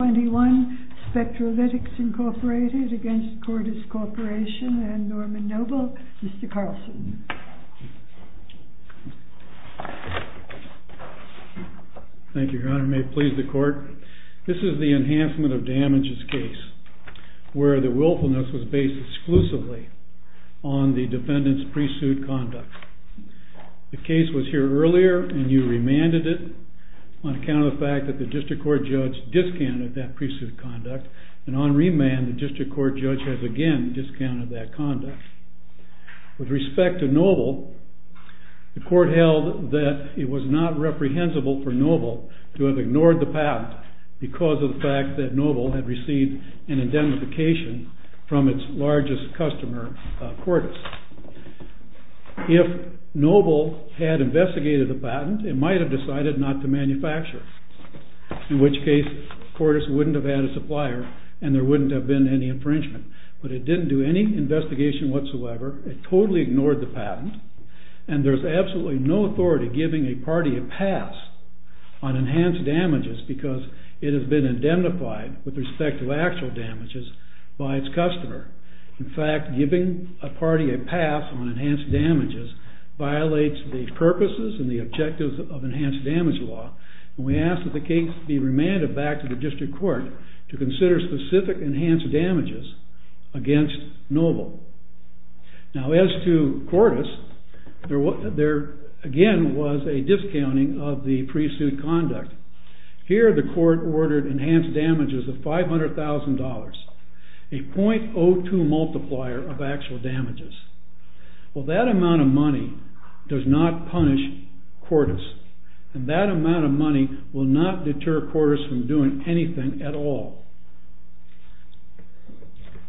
21 SPECTRALYTICS, Inc. v. CORDIS Corp. v. N. Noble. Mr. Carlson. Thank you, Your Honor. May it please the Court. This is the Enhancement of Damages case, where the willfulness was based exclusively on the defendant's pre-suit conduct. The case was here earlier, and you remanded it on account of the fact that the district court judge discounted that pre-suit conduct, and on remand, the district court judge has again discounted that conduct. With respect to Noble, the Court held that it was not reprehensible for Noble to have ignored the fact, because of the fact that Noble had received an identification from its largest customer, Cordis. If Noble had investigated the patent, it might have decided not to manufacture it, in which case Cordis wouldn't have had a supplier, and there wouldn't have been any infringement. But it didn't do any investigation whatsoever, it totally ignored the patent, and there's absolutely no authority giving a party a pass on enhanced damages, because it has been indemnified with respect to actual damages by its customer. In fact, giving a party a pass on enhanced damages violates the purposes and the objectives of enhanced damage law, and we ask that the case be remanded back to the district court to consider specific enhanced damages against Noble. Now, as to Cordis, there again was a discounting of the pre-suit conduct. Here the court ordered enhanced damages of $500,000, a .02 multiplier of actual damages. Well, that amount of money does not punish Cordis, and that amount of money will not deter Cordis from doing anything at all.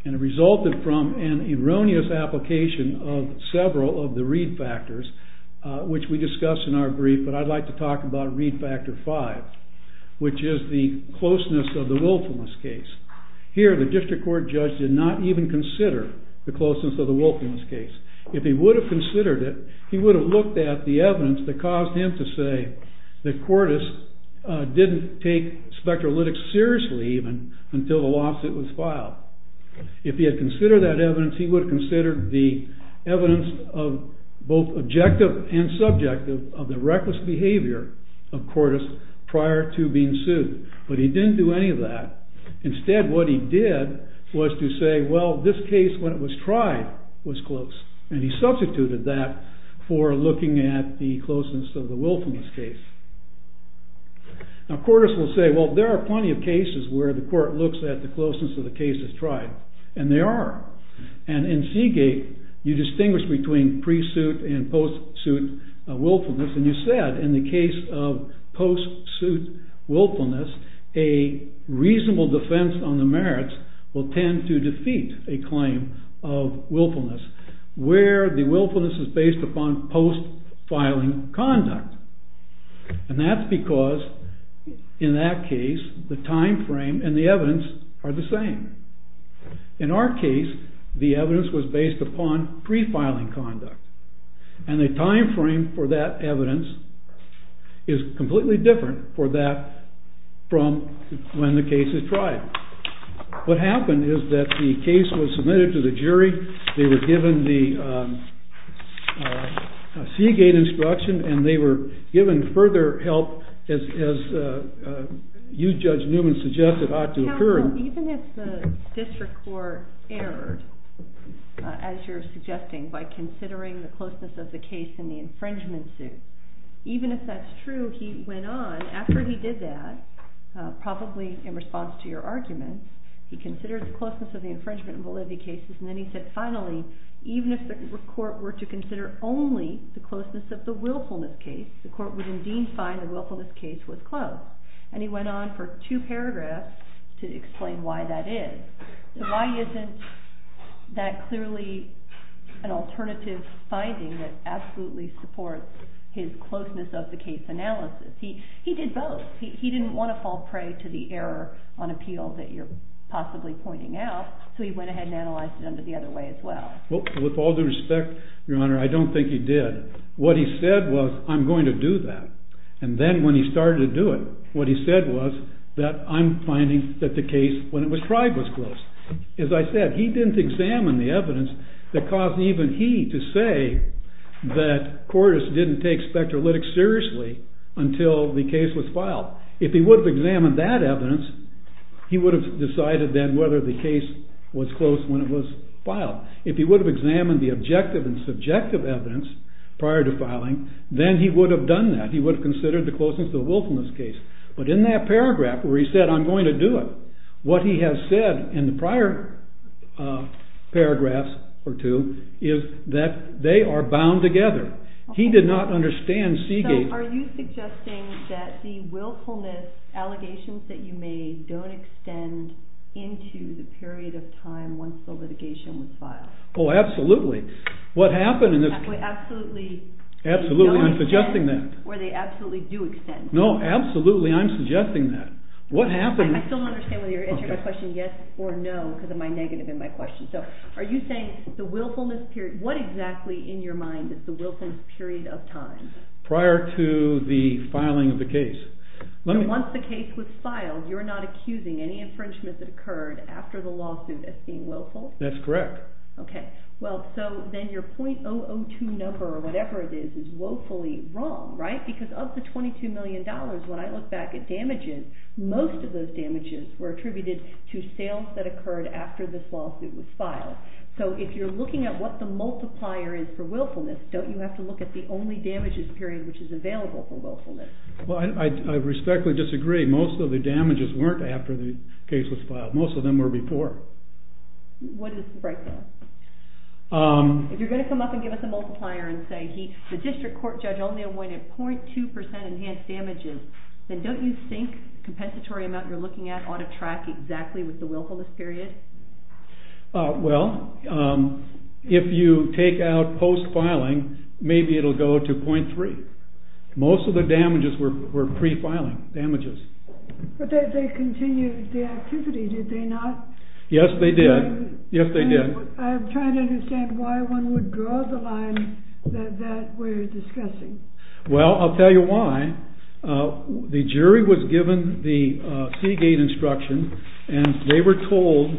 And it resulted from an erroneous application of several of the read factors, which we discussed in our brief, but I'd like to talk about read factor five, which is the closeness of the willfulness case. Here the district court judge did not even consider the closeness of the willfulness case. If he would have considered it, he would have looked at the evidence that caused him to say that Cordis didn't take Spectralytics seriously even until the lawsuit was filed. If he had considered that evidence, he would have considered the evidence of both objective and subjective of the reckless behavior of Cordis prior to being sued, but he didn't do any of that. Instead, what he did was to say, well, this case, when it was tried, was close, and he substituted that for looking at the closeness of the willfulness case. Now Cordis will say, well, there are plenty of cases where the court looks at the closeness of the case that's tried, and they are. And in Seagate, you distinguish between pre-suit and post-suit willfulness, and you said in the case of post-suit willfulness, a reasonable defense on the merits will tend to defeat a claim of willfulness, where the willfulness is based upon post-filing conduct. And that's because, in that case, the timeframe and the evidence are the same. In our case, the evidence was based upon pre-filing conduct, and the timeframe for that evidence is completely different for that from when the case is tried. What happened is that the case was submitted to the jury. They were given the Seagate instruction, and they were given further help, as you, Judge Newman, suggested ought to occur. Now, even if the district court erred, as you're suggesting, by considering the closeness of the case in the infringement suit, even if that's true, he went on, after he did that, probably in response to your argument, he considered the closeness of the infringement and validity cases, and then he said, finally, even if the court were to consider only the closeness of the willfulness case, the court would indeed find the willfulness case was close. And he went on for two paragraphs to explain why that is. Why isn't that clearly an alternative finding that absolutely supports his closeness of the case analysis? He did both. He didn't want to fall prey to the error on appeal that you're possibly pointing out, so he went ahead and analyzed them the other way as well. With all due respect, Your Honor, I don't think he did. What he said was, I'm going to do that. And then when he started to do it, what he said was that I'm finding that the case, when it was tried, was close. As I said, he didn't examine the evidence that caused even he to say that Cordes didn't take spectrolytics seriously until the case was filed. If he would have examined that evidence, he would have decided then whether the case was close when it was filed. If he would have examined the objective and subjective evidence prior to filing, then he would have done that. He would have considered the closeness of the willfulness case. But in that paragraph where he said, I'm going to do it, what he has said in the prior paragraphs or two is that they are bound together. He did not understand Seagate. Are you suggesting that the willfulness allegations that you made don't extend into the period of time once the litigation was filed? Oh, absolutely. What happened in this... Absolutely. Absolutely. I'm suggesting that. Or they absolutely do extend. No, absolutely. I'm suggesting that. What happened... I still don't understand whether you're answering my question yes or no because of my negative in my question. So are you saying the willfulness period... What exactly in your mind is the willfulness period of time? Prior to the filing of the case. Once the case was filed, you're not accusing any infringement that occurred after the lawsuit as being willful? That's correct. Okay. Well, so then your .002 number or whatever it is is woefully wrong, right? Because of the $22 million, when I look back at damages, most of those damages were attributed to sales that occurred after this lawsuit was filed. So if you're looking at what the multiplier is for willfulness, don't you have to look at the only damages period which is available for willfulness? Well, I respectfully disagree. Most of the damages weren't after the case was filed. Most of them were before. What is the breakdown? If you're going to come up and give us a multiplier and say the district court judge only awarded .2% enhanced damages, then don't you think the compensatory amount you're looking at ought to track exactly with the willfulness period? Well, if you take out post-filing, maybe it'll go to .3. Most of the damages were pre-filing damages. But they continued the activity, did they not? Yes, they did. Yes, they did. I'm trying to understand why one would draw the line that we're discussing. Well, I'll tell you why. The jury was given the Seagate instruction. And they were told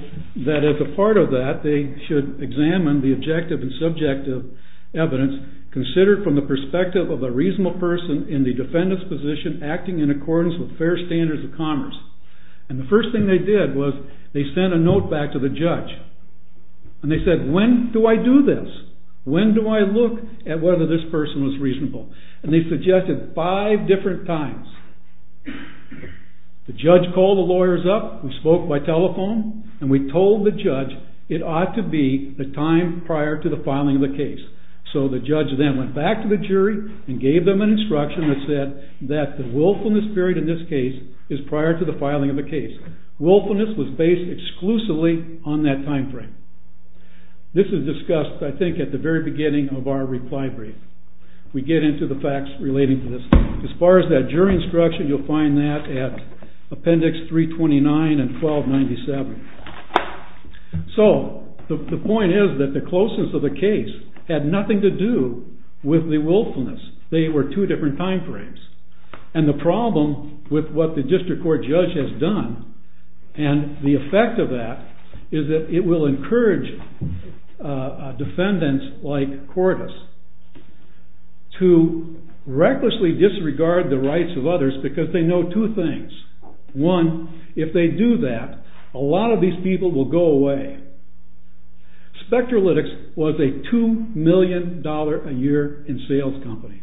that as a part of that, they should examine the objective and subjective evidence considered from the perspective of a reasonable person in the defendant's position acting in accordance with fair standards of commerce. And the first thing they did was they sent a note back to the judge. And they said, when do I do this? When do I look at whether this person is reasonable? And they suggested five different times. The judge called the lawyers up and spoke by telephone. And we told the judge it ought to be the time prior to the filing of the case. So the judge then went back to the jury and gave them an instruction that said that the willfulness period in this case is prior to the filing of the case. Willfulness was based exclusively on that time frame. This is discussed, I think, at the very beginning of our reply brief. We get into the facts relating to this. As far as that jury instruction, you'll find that at appendix 329 and 1297. So the point is that the closeness of the case had nothing to do with the willfulness. They were two different time frames. And the problem with what the district court judge has done, and the effect of that, is that it will encourage defendants like Cordes to recklessly disregard the rights of others because they know two things. One, if they do that, a lot of these people will go away. Spectralytics was a $2 million a year in sales company.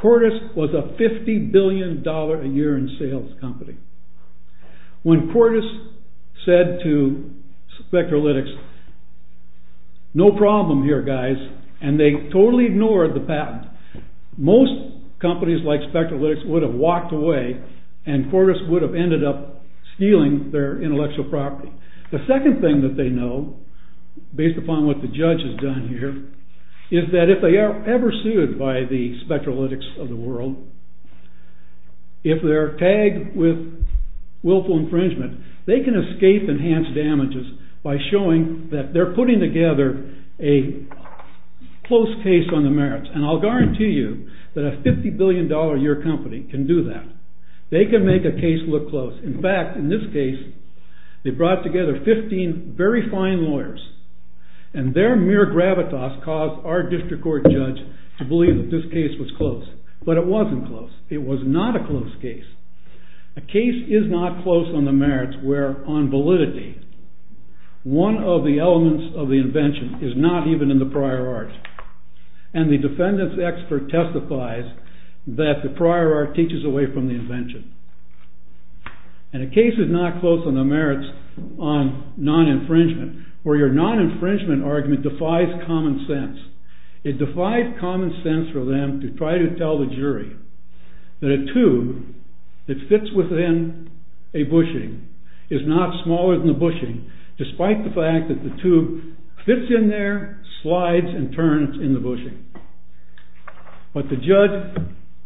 Cordes was a $50 billion a year in sales company. When Cordes said to Spectralytics, no problem here, guys, and they totally ignored the patent, most companies like Spectralytics would have walked away and Cordes would have ended up stealing their intellectual property. The second thing that they know, based upon what the judge has done here, is that if they are ever sued by the Spectralytics of the world, if they're tagged with willful infringement, they can escape enhanced damages by showing that they're putting together a close case on the merits. And I'll guarantee you that a $50 billion a year company can do that. They can make a case look close. In fact, in this case, they brought together 15 very fine lawyers, and their mere gravitas caused our district court judge to believe that this case was close. But it wasn't close. It was not a close case. A case is not close on the merits where, on validity, one of the elements of the invention is not even in the prior art. And the defendant's expert testifies that the prior art teaches away from the invention. And a case is not close on the merits on non-infringement, where your non-infringement argument defies common sense. It defies common sense for them to try to tell the jury that a tube that fits within a bushing is not smaller than the bushing, despite the fact that the tube fits in there, slides, and turns in the bushing. But the judge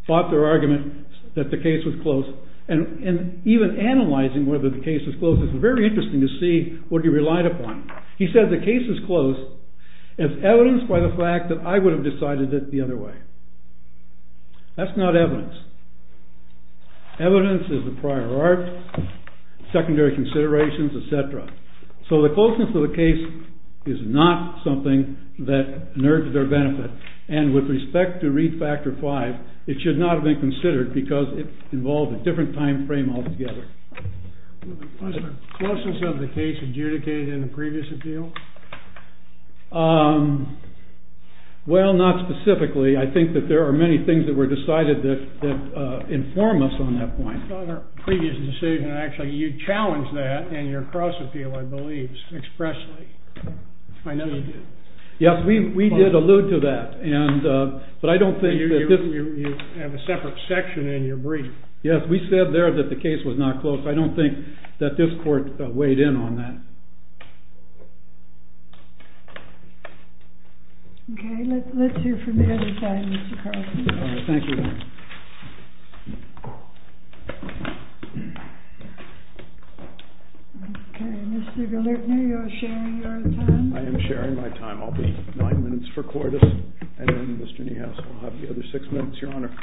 fought their argument that the case was close. And even analyzing whether the case was close, it's very interesting to see what he relied upon. He said the case is close. It's evidenced by the fact that I would have decided it the other way. That's not evidence. Evidence is the prior art, secondary considerations, et cetera. So the closeness of the case is not something that merges their benefits. And with respect to Read Factor V, it should not have been considered because it involves a different time frame altogether. Was the closeness of the case adjudicated in the previous appeal? Well, not specifically. I think that there are many things that were decided that inform us on that point. On our previous decision, actually, you challenged that in your cross-appeal, I believe, expressly. I know you did. Yes, we did allude to that. But I don't think that this is... You have a separate section in your brief. Yes, we said there that the case was not close. I don't think that this court weighed in on that. Okay, let's hear from the other side, Mr. Carson. All right, thank you. Okay, Mr. Galertner, you're sharing your time. I am sharing my time. I'll be nine minutes for Cordis, and then Mr. Niehaus will have the other six minutes, Your Honor.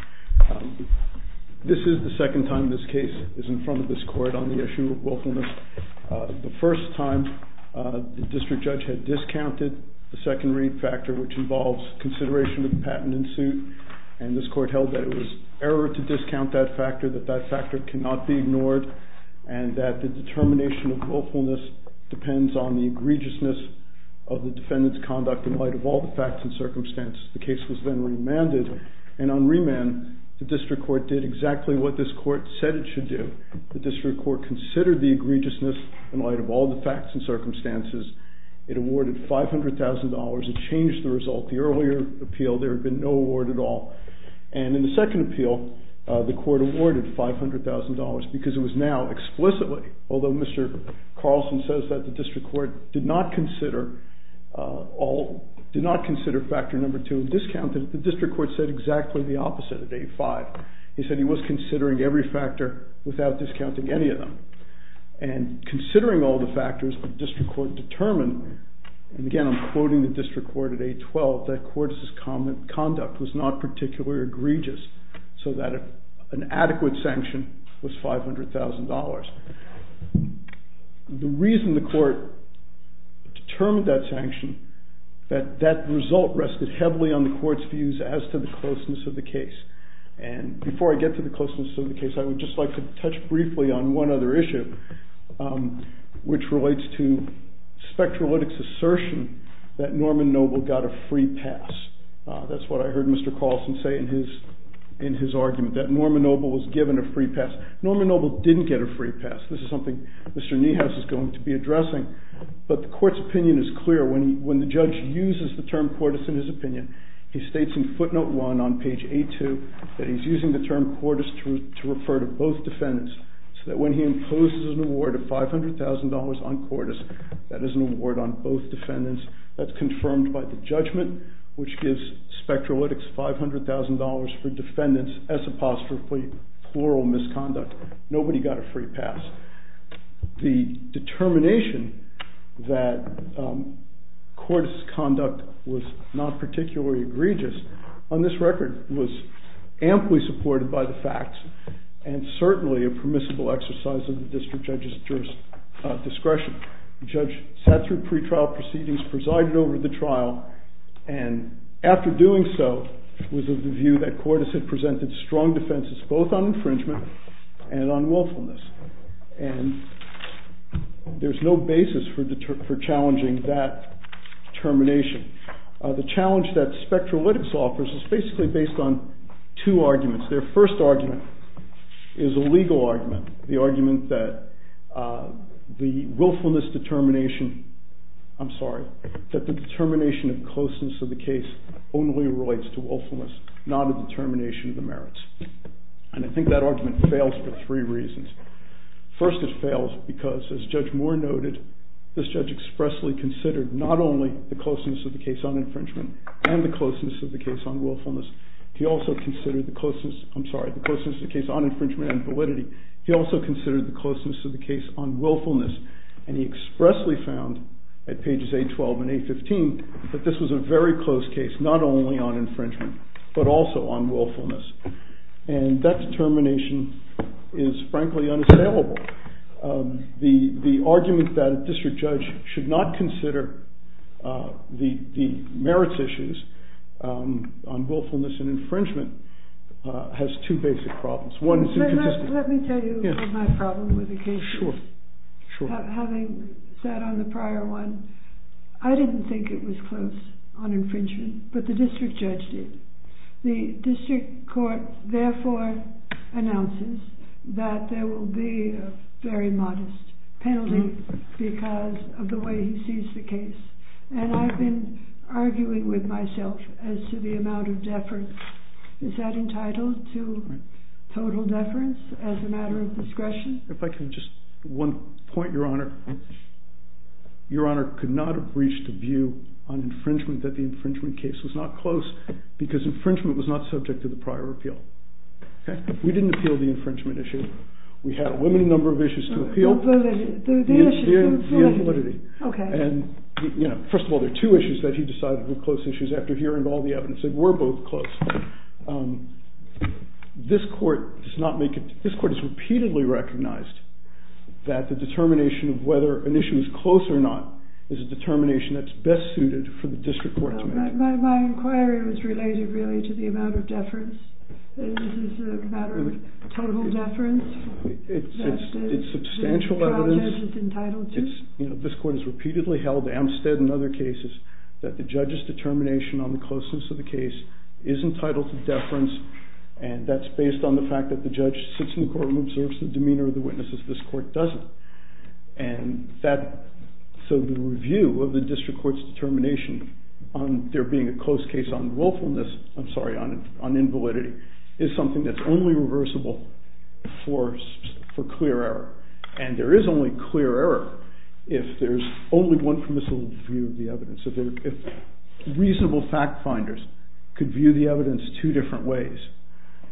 This is the second time this case is in front of this court on the issue of willfulness. The first time, the district judge had discounted the secondary factor, which involves consideration of the patent in suit, and this court held that it was error to discount that factor, that that factor cannot be ignored, and that the determination of willfulness depends on the egregiousness of the defendant's conduct in light of all the facts and circumstances. The case was then remanded, and on remand, the district court did exactly what this court said it should do. The district court considered the egregiousness in light of all the facts and circumstances. It awarded $500,000. It changed the result. The earlier appeal, there had been no award at all, and in the second appeal, the court awarded $500,000 because it was now explicitly, although Mr. Carlson says that, the district court did not consider factor number two. The district court said exactly the opposite at 8-5. He said he was considering every factor without discounting any of them, and considering all the factors, the district court determined, and again, I'm quoting the district court at 8-12, that Cordes' conduct was not particularly egregious, so that an adequate sanction was $500,000. The reason the court determined that sanction, that that result rested heavily on the court's views as to the closeness of the case, and before I get to the closeness of the case, I would just like to touch briefly on one other issue, which relates to Spectralytics' assertion that Norman Noble got a free pass. That's what I heard Mr. Carlson say in his argument, that Norman Noble was given a free pass. Norman Noble didn't get a free pass. This is something Mr. Niehaus is going to be addressing, but the court's opinion is clear. When the judge uses the term Cordes in his opinion, he states in footnote one on page A-2 that he's using the term Cordes to refer to both defendants, so that when he imposes an award of $500,000 on Cordes, that is an award on both defendants. That's confirmed by the judgment, which gives Spectralytics $500,000 for defendants, as apostrophically plural misconduct. Nobody got a free pass. The determination that Cordes' conduct was not particularly egregious on this record was amply supported by the facts, and certainly a permissible exercise of the district judge's discretion. The judge sat through pretrial proceedings, presided over the trial, and after doing so, was of the view that Cordes had presented strong defenses both on infringement and on willfulness. And there's no basis for challenging that termination. The challenge that Spectralytics offers is basically based on two arguments. Their first argument is a legal argument, the argument that the willfulness determination... I'm sorry... that the determination of closeness of the case only relates to willfulness, not a determination of the merits. And I think that argument fails for three reasons. First, it fails because, as Judge Moore noted, this judge expressly considered not only the closeness of the case on infringement and the closeness of the case on willfulness, he also considered the closeness... I'm sorry, the closeness of the case on infringement and validity, he also considered the closeness of the case on willfulness, and he expressly found, at pages 812 and 815, that this was a very close case, not only on infringement, but also on willfulness. And that determination is, frankly, unassailable. The argument that a district judge should not consider the merits issues on willfulness and infringement has two basic problems. Let me tell you my problem with the case. Sure, sure. Having said on the prior one, I didn't think it was close on infringement, but the district judge did. The district court therefore announces that there will be a very modest penalty because of the way he sees the case. And I've been arguing with myself as to the amount of deference. Is that entitled to total deference as a matter of discretion? If I could just... One point, Your Honor. Your Honor could not have reached a view on infringement that the infringement case was not close because infringement was not subject to the prior appeal. We didn't appeal the infringement issue. We had a limited number of issues to appeal. The issue of validity. And first of all, there are two issues that he decided were close issues after hearing all the evidence that were both close. This court does not make it... This court has repeatedly recognized that the determination of whether an issue is close or not is a determination that's best suited for the district court to make. My inquiry was related really to the amount of deference. Is this a matter of total deference? It's substantial evidence. This court has repeatedly held, Amstead and other cases, that the judge's determination on the closeness of the case is entitled to deference, and that's based on the fact that the judge sits in court and observes the demeanor of the witnesses. This court doesn't. And so the review of the district court's determination on there being a close case on willfulness... I'm sorry, on invalidity, is something that's only reversible for clear error. And there is only clear error if there's only one permissible view of the evidence. If reasonable fact-finders could view the evidence two different ways,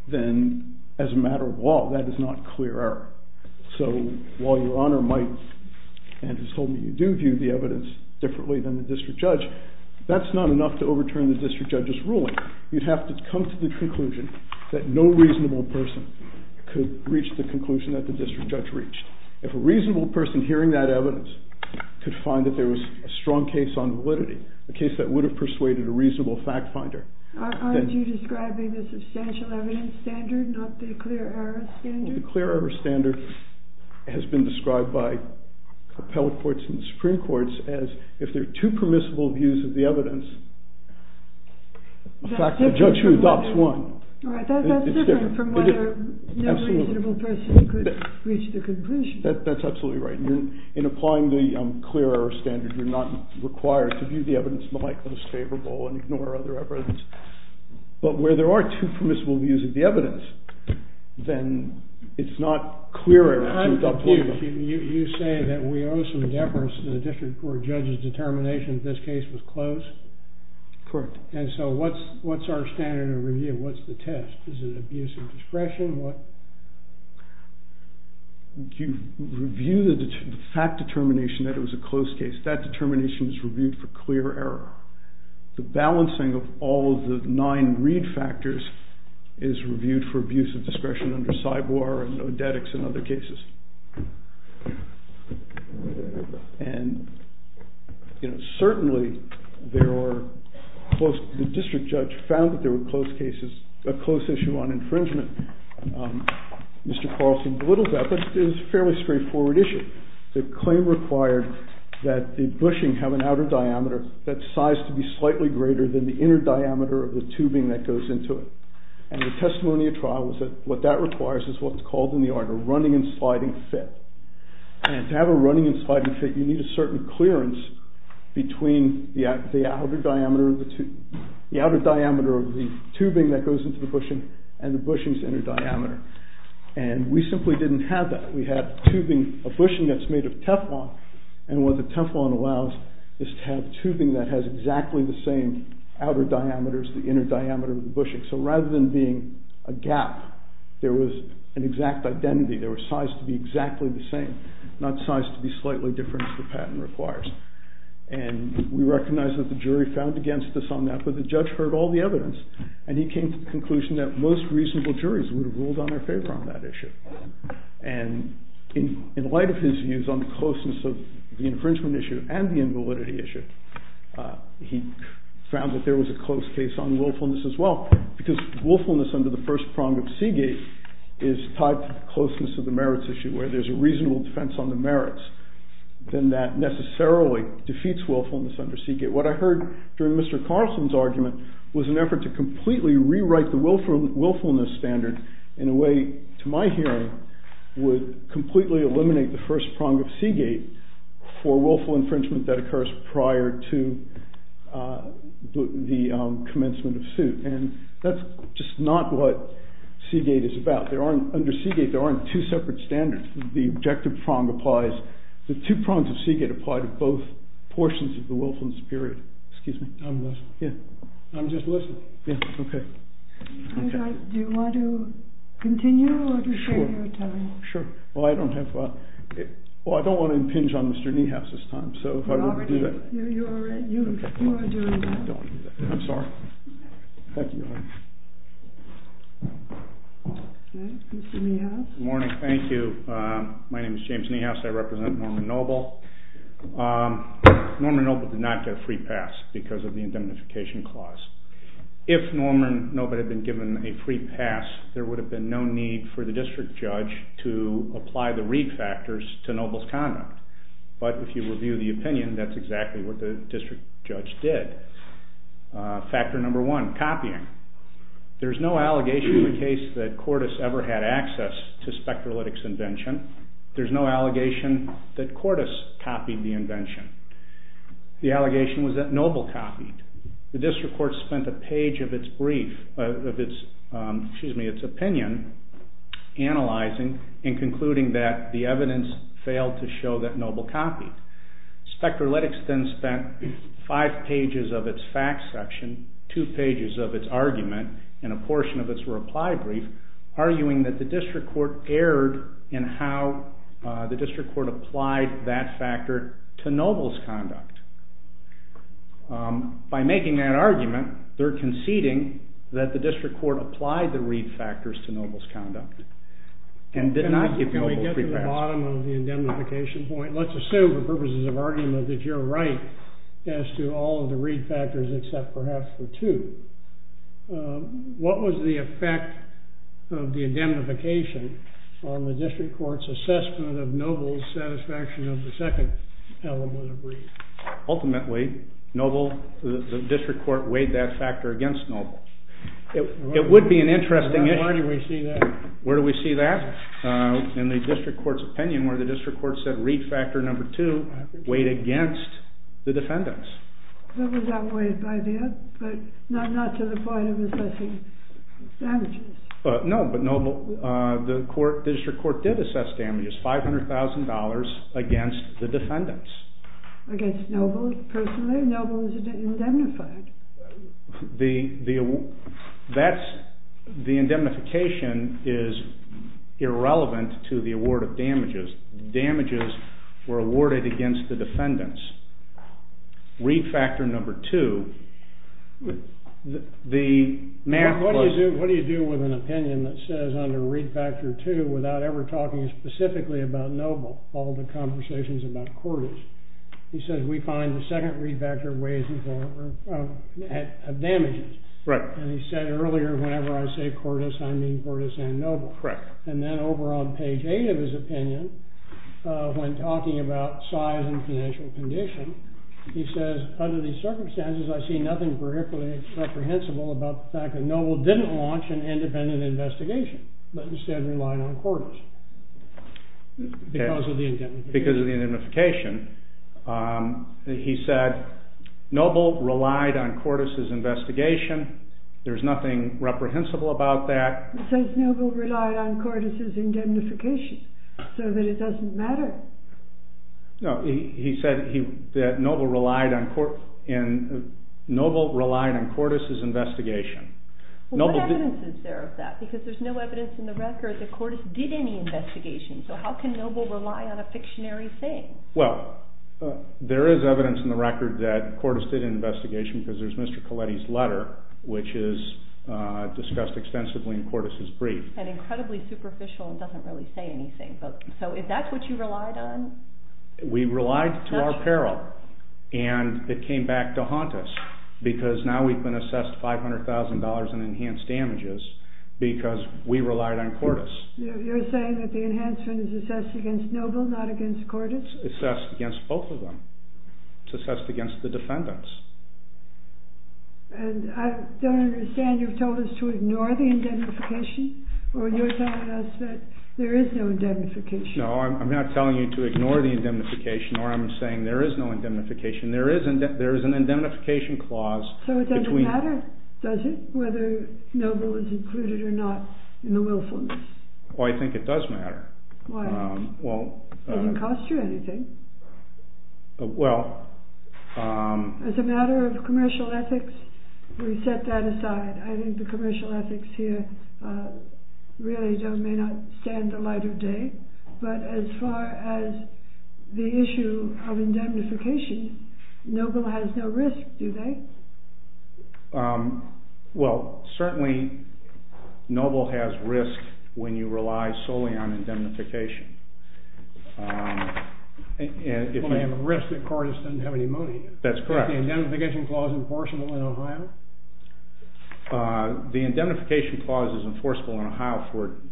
then as a matter of law, that is not clear error. So while Your Honor might and has told me you do view the evidence differently than the district judge, that's not enough to overturn the district judge's ruling. You'd have to come to the conclusion that no reasonable person could reach the conclusion that the district judge reached. If a reasonable person hearing that evidence could find that there was a strong case on validity, a case that would have persuaded a reasonable fact-finder... Aren't you describing the substantial evidence standard, not the clear error standard? The clear error standard has been described by appellate courts and Supreme Courts as if there are two permissible views of the evidence, the fact that the judge here adopts one. That's different from whether no reasonable person could reach the conclusion. That's absolutely right. In applying the clear error standard, you're not required to view the evidence in a way that is most favorable and ignore other evidence. But where there are two permissible views of the evidence, then it's not clear error. I'm confused. You say that we owe some deference to the district court judge's determination that this case was closed? Correct. And so what's our standard of review? What's the test? Is it abuse of discretion? You review the fact determination that it was a closed case. That determination is reviewed for clear error. The balancing of all of the nine read factors is reviewed for abuse of discretion under CYBOR and ODETX and other cases. Certainly, the district judge found that there were closed cases, a closed issue on infringement. Mr. Carlson belittled that. That's a fairly straightforward issue. The claim required that the bushing have an outer diameter that's sized to be slightly greater than the inner diameter of the tubing that goes into it. And the testimony of trial was that what that requires is what's called in the art a running and sliding fit. And to have a running and sliding fit, you need a certain clearance between the outer diameter of the tubing that goes into the bushing and the bushing's inner diameter. And we simply didn't have that. We had a bushing that's made of Teflon. And what the Teflon allows is to have tubing that has exactly the same outer diameter as the inner diameter of the bushing. So rather than being a gap, there was an exact identity. They were sized to be exactly the same, not sized to be slightly different as the patent requires. And we recognize that the jury found against this on that. But the judge heard all the evidence. And he came to the conclusion that most reasonable juries would have ruled on their favor on that issue. And in light of his views on closeness of the infringement issue and the invalidity issue, he found that there was a close case on willfulness as well. Because willfulness under the first prong of Seagate is tied to the closeness of the merits issue, where there's a reasonable defense on the merits. And that necessarily defeats willfulness under Seagate. What I heard during Mr. Carson's argument was an effort to completely rewrite the willfulness standard in a way, to my hearing, would completely eliminate the first prong of Seagate for willful infringement that occurs prior to the commencement of suit. And that's just not what Seagate is about. Under Seagate, there aren't two separate standards. The objective prong applies. The two prongs of Seagate apply to both portions of the willfulness period. Excuse me. I'm just listening. OK. Do you want to continue? Sure. Well, I don't have a, well, I don't want to impinge on Mr. Niehaus this time. So if I were to do that. You are adjourned. I'm sorry. Mr. Niehaus. Good morning. Thank you. My name is James Niehaus. I represent Norman Noble. Norman Noble did not get a free pass because of the indemnification clause. If Norman Noble had been given a free pass, there would have been no need for the district judge to apply the Reed factors to Noble's conduct. But if you review the opinion, that's exactly what the district judge did. Factor number one, copying. There's no allegation in the case that Cordes ever had access to spectrolytics invention. There's no allegation that Cordes copied the invention. The allegation was that Noble copied. The district court spent a page of its brief, of its opinion, analyzing and concluding that the evidence failed to show that Noble copied. Spectrolytics then spent five pages of its fact section, two pages of its argument, and a portion of its reply brief, arguing that the district court erred in how the district court applied that factor to Noble's conduct. By making that argument, they're conceding that the district court applied the Reed factors to Noble's conduct and did not give Noble a free pass. Can I get to the bottom of the indemnification point? Let's assume, for purposes of argument, that you're right as to all of the Reed factors except perhaps the two. What was the effect of the indemnification on the district court's assessment of Noble's satisfaction of the second element of Reed? Ultimately, Noble, the district court, weighed that factor against Noble. It would be an interesting issue. Where do we see that? Where do we see that? In the district court's opinion, where the district court said Reed factor number two weighed against the defendants. It was outweighed by that, but not to the point of assessing damages. No, but the district court did assess damages, $500,000, against the defendants. Against Noble, personally? Noble was indemnified. The indemnification is irrelevant to the award of damages. Damages were awarded against the defendants. Reed factor number two, the math was What do you do with an opinion that says under Reed factor two, without ever talking specifically about Noble, all the conversations about Cordes? He says, we find the second Reed factor weighs and damages. Right. And he said earlier, whenever I say Cordes, I mean Cordes and Noble. Correct. And then over on page eight of his opinion, when talking about size and financial condition, he says, under these circumstances, I see nothing particularly reprehensible about the fact that Noble didn't launch an independent investigation, but instead relied on Cordes. Because of the indemnification. Because of the indemnification. He said, Noble relied on Cordes' investigation. There's nothing reprehensible about that. It says Noble relied on Cordes' indemnification. So that it doesn't matter. No. He said that Noble relied on Cordes' investigation. Well, what evidence is there of that? Because there's no evidence in the record that Cordes did any investigation. So how can Noble rely on a pictionary saying? Well, there is evidence in the record that Cordes did an investigation because there's Mr. Colletti's letter, which is discussed extensively in Cordes' brief. And incredibly superficial and doesn't really say anything. So is that what you relied on? We relied to our peril. And it came back to haunt us. Because now we've been assessed $500,000 in enhanced damages because we relied on Cordes. You're saying that the enhancement is assessed against Noble, not against Cordes? It's assessed against both of them. It's assessed against the defendants. I don't understand. You've told us to ignore the indemnification. Or you're telling us that there is no indemnification? No, I'm not telling you to ignore the indemnification. Or I'm saying there is no indemnification. There is an indemnification clause. So it doesn't matter, does it, whether Noble was included or not in the willfulness? Well, I think it does matter. Why? It doesn't cost you anything. Well, um. As a matter of commercial ethics, we set that aside. I think the commercial ethics here really may not stand the light of day. But as far as the issue of indemnification, Noble has no risk, do they? Well, certainly Noble has risk when you rely solely on indemnification. Well, they have a risk if Cordes didn't have any money. That's correct. Is the indemnification clause enforceable in Ohio? The indemnification clause is enforceable in Ohio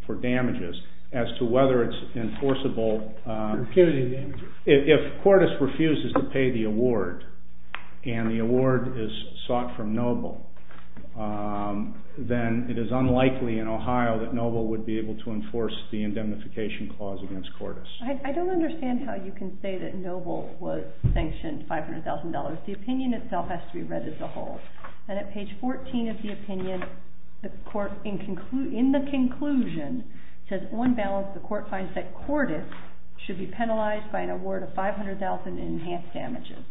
for damages. As to whether it's enforceable. If Cordes refuses to pay the award, and the award is sought from Noble, then it is unlikely in Ohio that Noble would be able to enforce the indemnification clause against Cordes. I don't understand how you can say that Noble was sanctioned for $500,000. The opinion itself has to be read as a whole. And at page 14 of the opinion, in the conclusion, it says, on balance, the court finds that Cordes should be penalized by an award of $500,000 in enhanced damages.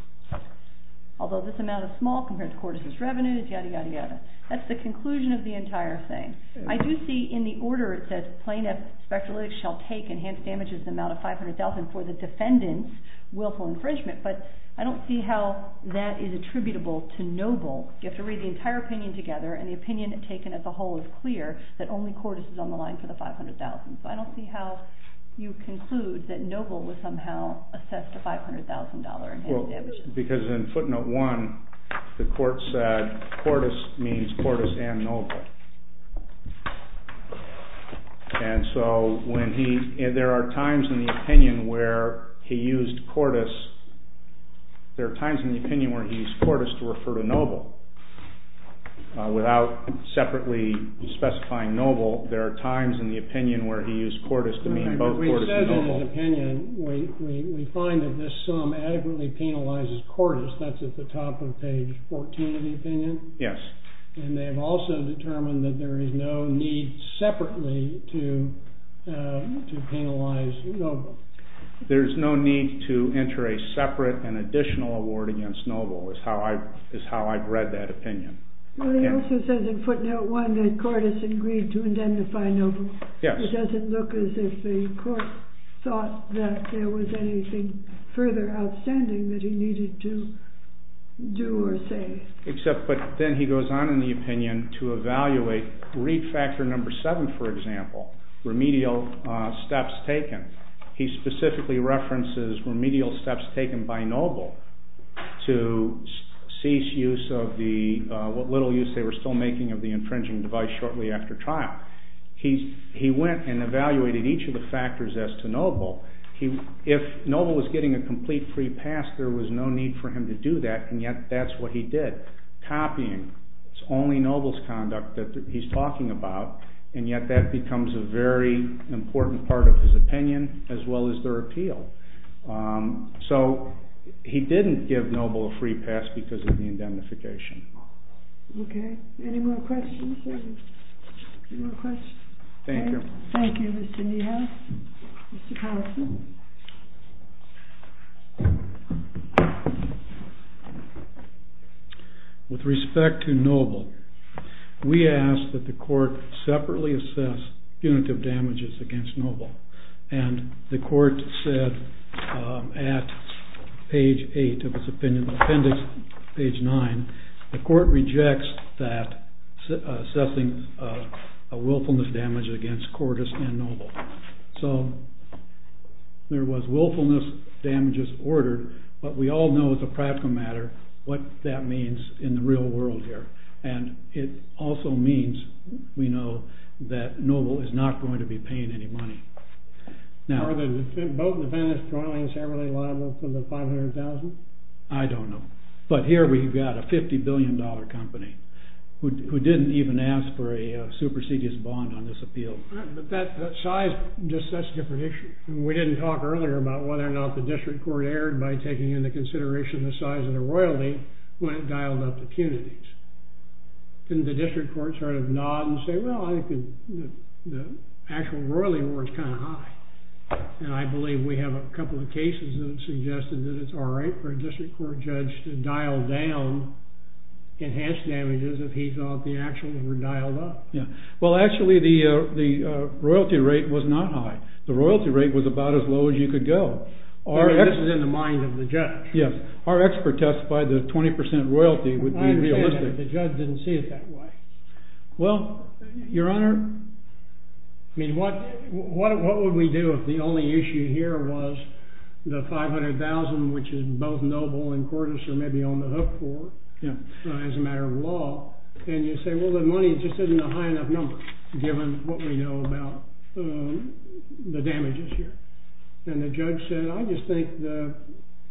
Although this amount is small compared to Cordes' revenue, yada, yada, yada. That's the conclusion of the entire thing. I do see in the order it says, plaintiff speculates shall take enhanced damages amount of $500,000 for the defendant's willful infringement. But I don't see how that is attributable to Noble. You have to read the entire opinion together. And the opinion taken as a whole is clear that only Cordes is on the line for the $500,000. So I don't see how you conclude that Noble was somehow assessed a $500,000 in enhanced damages. Because in footnote 1, the court said Cordes means Cordes and Noble. And so there are times in the opinion where he used Cordes. There are times in the opinion where he used Cordes to refer to Noble. Without separately specifying Noble, there are times in the opinion where he used Cordes to mean both Cordes and Noble. We find that this sum adequately penalizes Cordes. That's at the top of page 14 of the opinion. Yes. And they have also determined that there is no need to enter a separate and additional award against Noble, is how I've read that opinion. Well, it also says in footnote 1 that Cordes agreed to identify Noble. Yes. It doesn't look as if the court thought that there was anything further outstanding that he needed to do or say. Except then he goes on in the opinion to evaluate read factor number 7, for example, remedial steps taken. He specifically references remedial steps taken by Noble to cease use of the little use they were still making of the infringing device shortly after trial. He went and evaluated each of the factors as to Noble. If Noble was getting a complete free pass, there was no need for him to do that, and yet that's what he did. Copying is only Noble's conduct that he's talking about, and yet that becomes a very important part of his opinion as well as their appeal. So he didn't give Noble a free pass because of the identification. OK. Any more questions? Any more questions? Thank you. Thank you, Mr. Niehaus. Mr. Carlson? With respect to Noble, we ask that the court separately assess punitive damages against Noble. And the court said at page 8 of its opinion of appendix, page 9, the court rejects that assessing a willfulness damage against Cordis and Noble. So there was willfulness damages order, but we all know as a practical matter what that means in the real world here. And it also means, we know, that Noble is not going to be paying any money. Now, are the vote in the banished drawings heavily liable for the $500,000? I don't know. But here we've got a $50 billion company who didn't even ask for a supersedious bond on this appeal. But that size just sets the prediction. We didn't talk earlier about whether or not the district court erred by taking into consideration the size of the royalty when it dialed up the punities. Didn't the district court sort of nod and say, well, I think the actual royalty was kind of high. And I believe we have a couple of cases that suggested that it's all right for a district court judge to dial down enhanced damages if he thought the actuals were dialed up. Well, actually, the royalty rate was not high. The royalty rate was about as low as you could go. This is in the mind of the judge. Yes. Our expert testified that 20% royalty would be realistic. I understand that. The judge didn't see it that way. Well, Your Honor, I mean, what would we do if the only issue here was the $500,000, which is both noble and courteous or maybe on the hook for it as a matter of law? And you say, well, the money just isn't a high enough number given what we know about the damages here. And the judge said, I just think the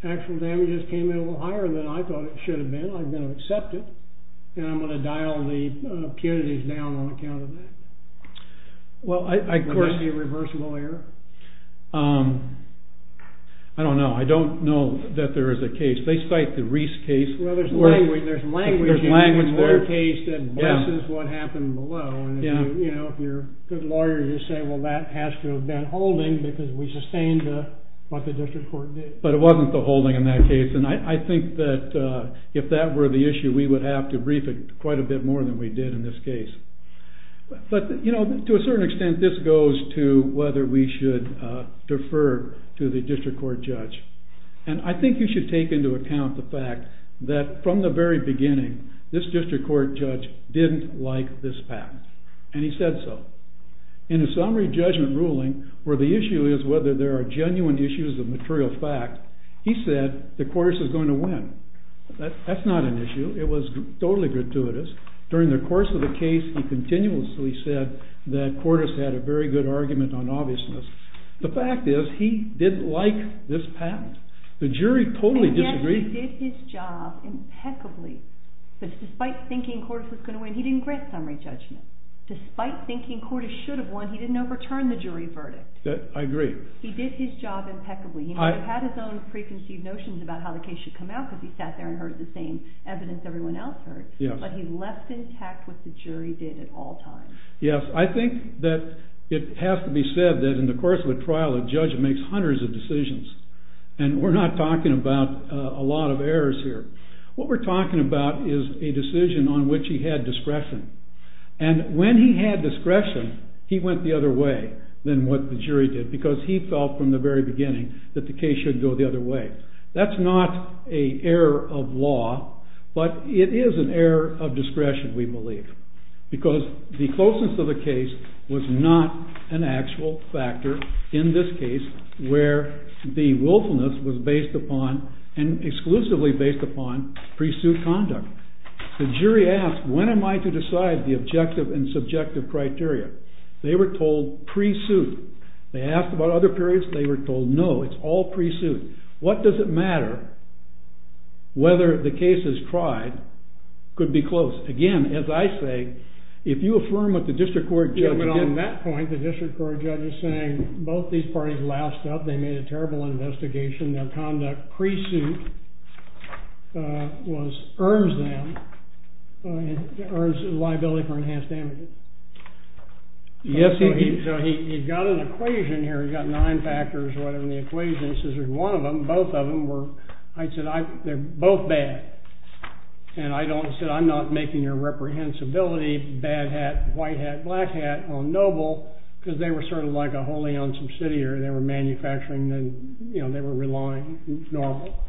actual damages came in a little higher than I thought it should have been. I'm going to accept it. And I'm going to dial the impunities down on account of that. Well, I question. It might be a reversal error. I don't know. I don't know that there is a case. They cite the Reese case. Well, there's language. There's language. There's language there. It's their case that blesses what happened below. And if you're a good lawyer, you say, well, that has to have been holding because we sustained what the district court did. But it wasn't the holding in that case. And I think that if that were the issue, we would have to brief it quite a bit more than we did in this case. But to a certain extent, this goes to whether we should defer to the district court judge. And I think you should take into account the fact that from the very beginning, this district court judge didn't like this fact. And he said so. In the summary judgment ruling, where the issue is whether there are genuine issues of material fact, he said that Cordes is going to win. That's not an issue. It was totally gratuitous. During the course of the case, he continuously said that Cordes had a very good argument on obviousness. The fact is, he didn't like this patent. The jury totally disagreed. He did his job impeccably. But despite thinking Cordes was going to win, he didn't grant summary judgment. Despite thinking Cordes should have won, he didn't overturn the jury verdict. I agree. He did his job impeccably. He had his own preconceived notions about how the case should come out, because he sat there and heard the same evidence everyone else heard. But he left intact what the jury did at all times. Yes. I think that it has to be said that in the course of the trial, the judge makes hundreds of decisions. And we're not talking about a lot of errors here. What we're talking about is a decision on which he had discretion. And when he had discretion, he went the other way than what the jury did, because he felt from the very beginning that the case should go the other way. That's not an error of law. But it is an error of discretion, we believe. Because the closeness of the case was not an actual factor in this case, where the willfulness was based upon, and exclusively based upon, pre-suit conduct. The jury asked, when am I to decide the objective and subjective criteria? They were told, pre-suit. They asked about other periods. They were told, no, it's all pre-suit. What does it matter whether the case is tried? Could be close. Again, as I say, if you affirm what the district court judge did on that point, the district court judge is saying, both these parties laughed up. They made a terrible investigation. Their conduct pre-suit earns them liability for enhanced damages. So he's got an equation here. He's got nine factors in the equation. He says, there's one of them, both of them were, I said, they're both bad. And I said, I'm not making your reprehensibility, bad hat, white hat, black hat, or noble, because they were sort of like a wholly owned subsidiary. They were manufacturing, and they were relying on noble.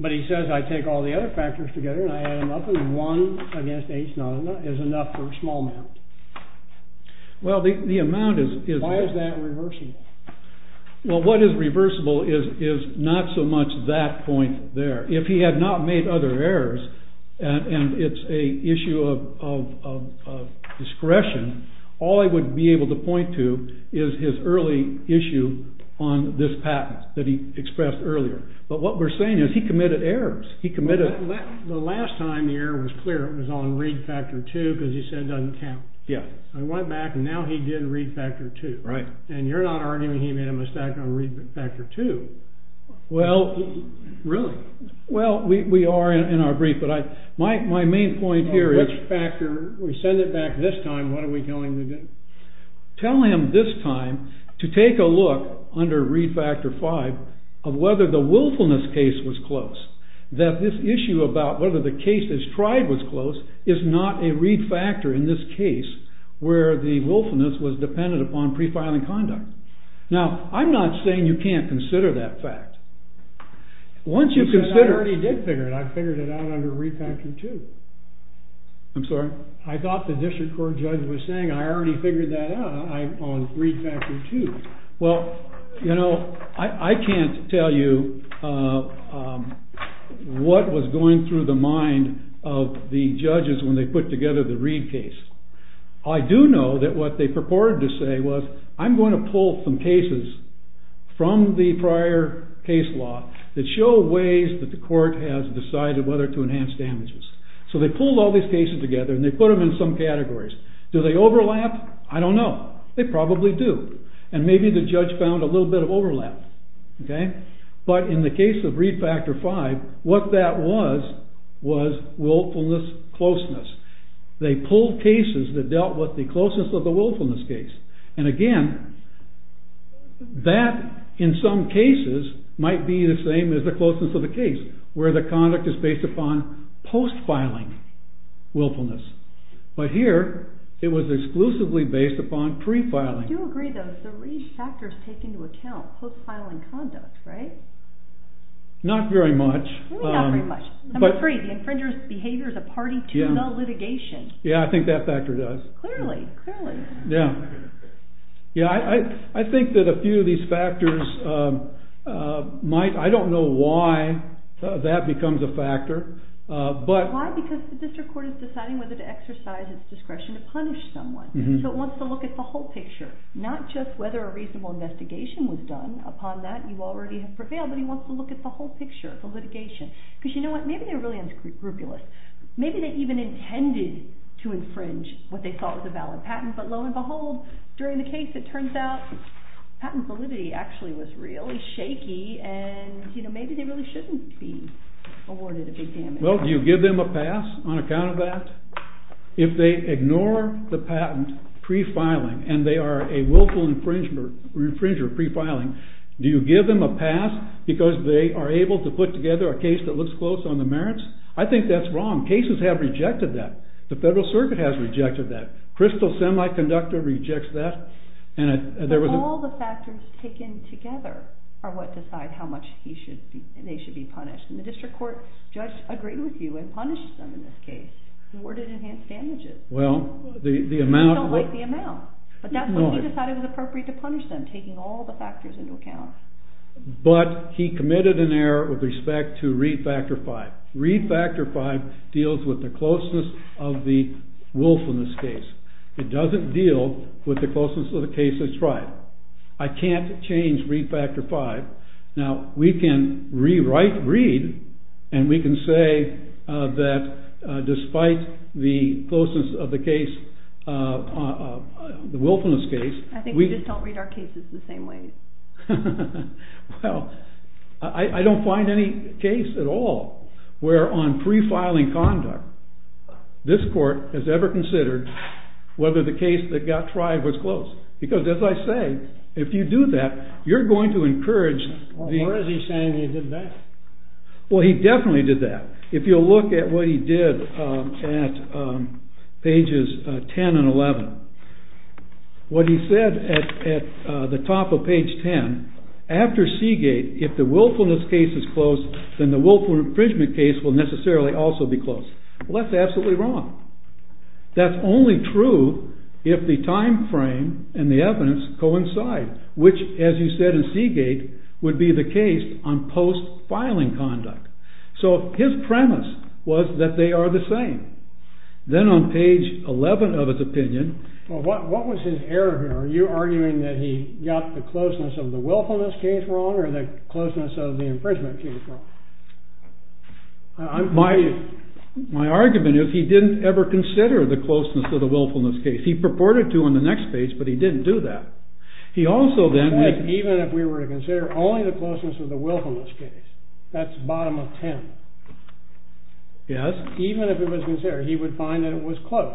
But he says, I take all the other factors together, and I add them up, and one against each other is enough for a small amount. Well, the amount is. Why is that reversible? Well, what is reversible is not so much that point there. If he had not made other errors, and it's an issue of discretion, all I would be able to point to is his early issue on this patent that he expressed earlier. But what we're saying is he committed errors. He committed errors. The last time the error was clear, it was on read factor 2, because he said it doesn't count. I went back, and now he did read factor 2. And you're not arguing he made a mistake on read factor 2. Really? Well, we are in our brief. But my main point here is factor, we send it back this time, what are we telling him to do? Tell him this time to take a look under read factor 5 of whether the willfulness case was closed. That this issue about whether the case is tried was closed is not a read factor in this case where the willfulness was dependent upon pre-filing conduct. Now, I'm not saying you can't consider that fact. Once you consider it. I already did figure it. I figured it out under read factor 2. I'm sorry? I thought the district court judge was saying, I already figured that out on read factor 2. Well, you know, I can't tell you what was going through the mind of the judges when they put together the Reed case. I do know that what they purported to say was, I'm going to pull some cases from the prior case law that show ways that the court has decided whether to enhance damages. So they pulled all these cases together and they put them in some categories. Do they overlap? I don't know. They probably do. And maybe the judge found a little bit of overlap. But in the case of read factor 5, what that was, was willfulness closeness. They pulled cases that dealt with the closeness of the willfulness case. And again, that in some cases might be the same as the closeness of the case where the conduct is based upon post-filing willfulness. But here, it was exclusively based upon pre-filing. I do agree, though. So Reed's factors take into account post-filing conduct, right? Not very much. Not very much. Number three, infringers' behavior as a party to null litigation. Yeah, I think that factor does. Clearly, clearly. Yeah. Yeah, I think that a few of these factors might, I don't know why that becomes a factor. Why? Because the district court is deciding whether to exercise its discretion to punish someone. So it wants to look at the whole picture, not just whether a reasonable investigation was done upon that and you already have prevailed. But he wants to look at the whole picture of the litigation. Because you know what? Maybe they're really unscrupulous. Maybe they even intended to infringe what they thought was a valid patent. But lo and behold, during the case, it turns out patent validity actually was really shaky. And you know, maybe they really shouldn't be awarded a DCMF. Well, do you give them a pass on account of that? If they ignore the patent pre-filing and they are a willful infringer pre-filing, do you give them a pass because they are able to put together a case that looks close on the merits? I think that's wrong. Cases have rejected that. The Federal Circuit has rejected that. Crystal Semiconductor rejects that. All the factors taken together are what decide how much they should be punished. And the district court just agreed with you and punished them in this case. Awarded enhanced damages. Well, the amount. They don't like the amount. But that's when he decided it was appropriate to punish them, taking all the factors into account. But he committed an error with respect to re-factor 5. Re-factor 5 deals with the closeness of the wolf in this case. It doesn't deal with the closeness of the case it's tried. I can't change re-factor 5. Now, we can re-write Reed and we can say that despite the closeness of the case, the wolf in this case. I think we just don't read our cases the same way. Well, I don't find any case at all where on pre-filing conduct this court has ever considered whether the case that got tried was close. Because as I say, if you do that, you're going to encourage the- Why is he saying he did that? Well, he definitely did that. If you'll look at what he did at pages 10 and 11. What he said at the top of page 10, after Seagate, if the willfulness case is close, then the willful infringement case will necessarily also be close. Well, that's absolutely wrong. That's only true if the time frame and the evidence coincide, which, as you said in Seagate, would be the case on post-filing conduct. So his premise was that they are the same. Then on page 11 of his opinion- What was his error here? Are you arguing that he got the closeness of the willfulness case wrong or the closeness of the infringement case wrong? My argument is he didn't ever consider the closeness of the willfulness case. He purported to on the next page, but he didn't do that. He also then- Even if we were to consider only the closeness of the willfulness case, that's bottom of 10. Yes. Even if it was considered, he would find that it was close.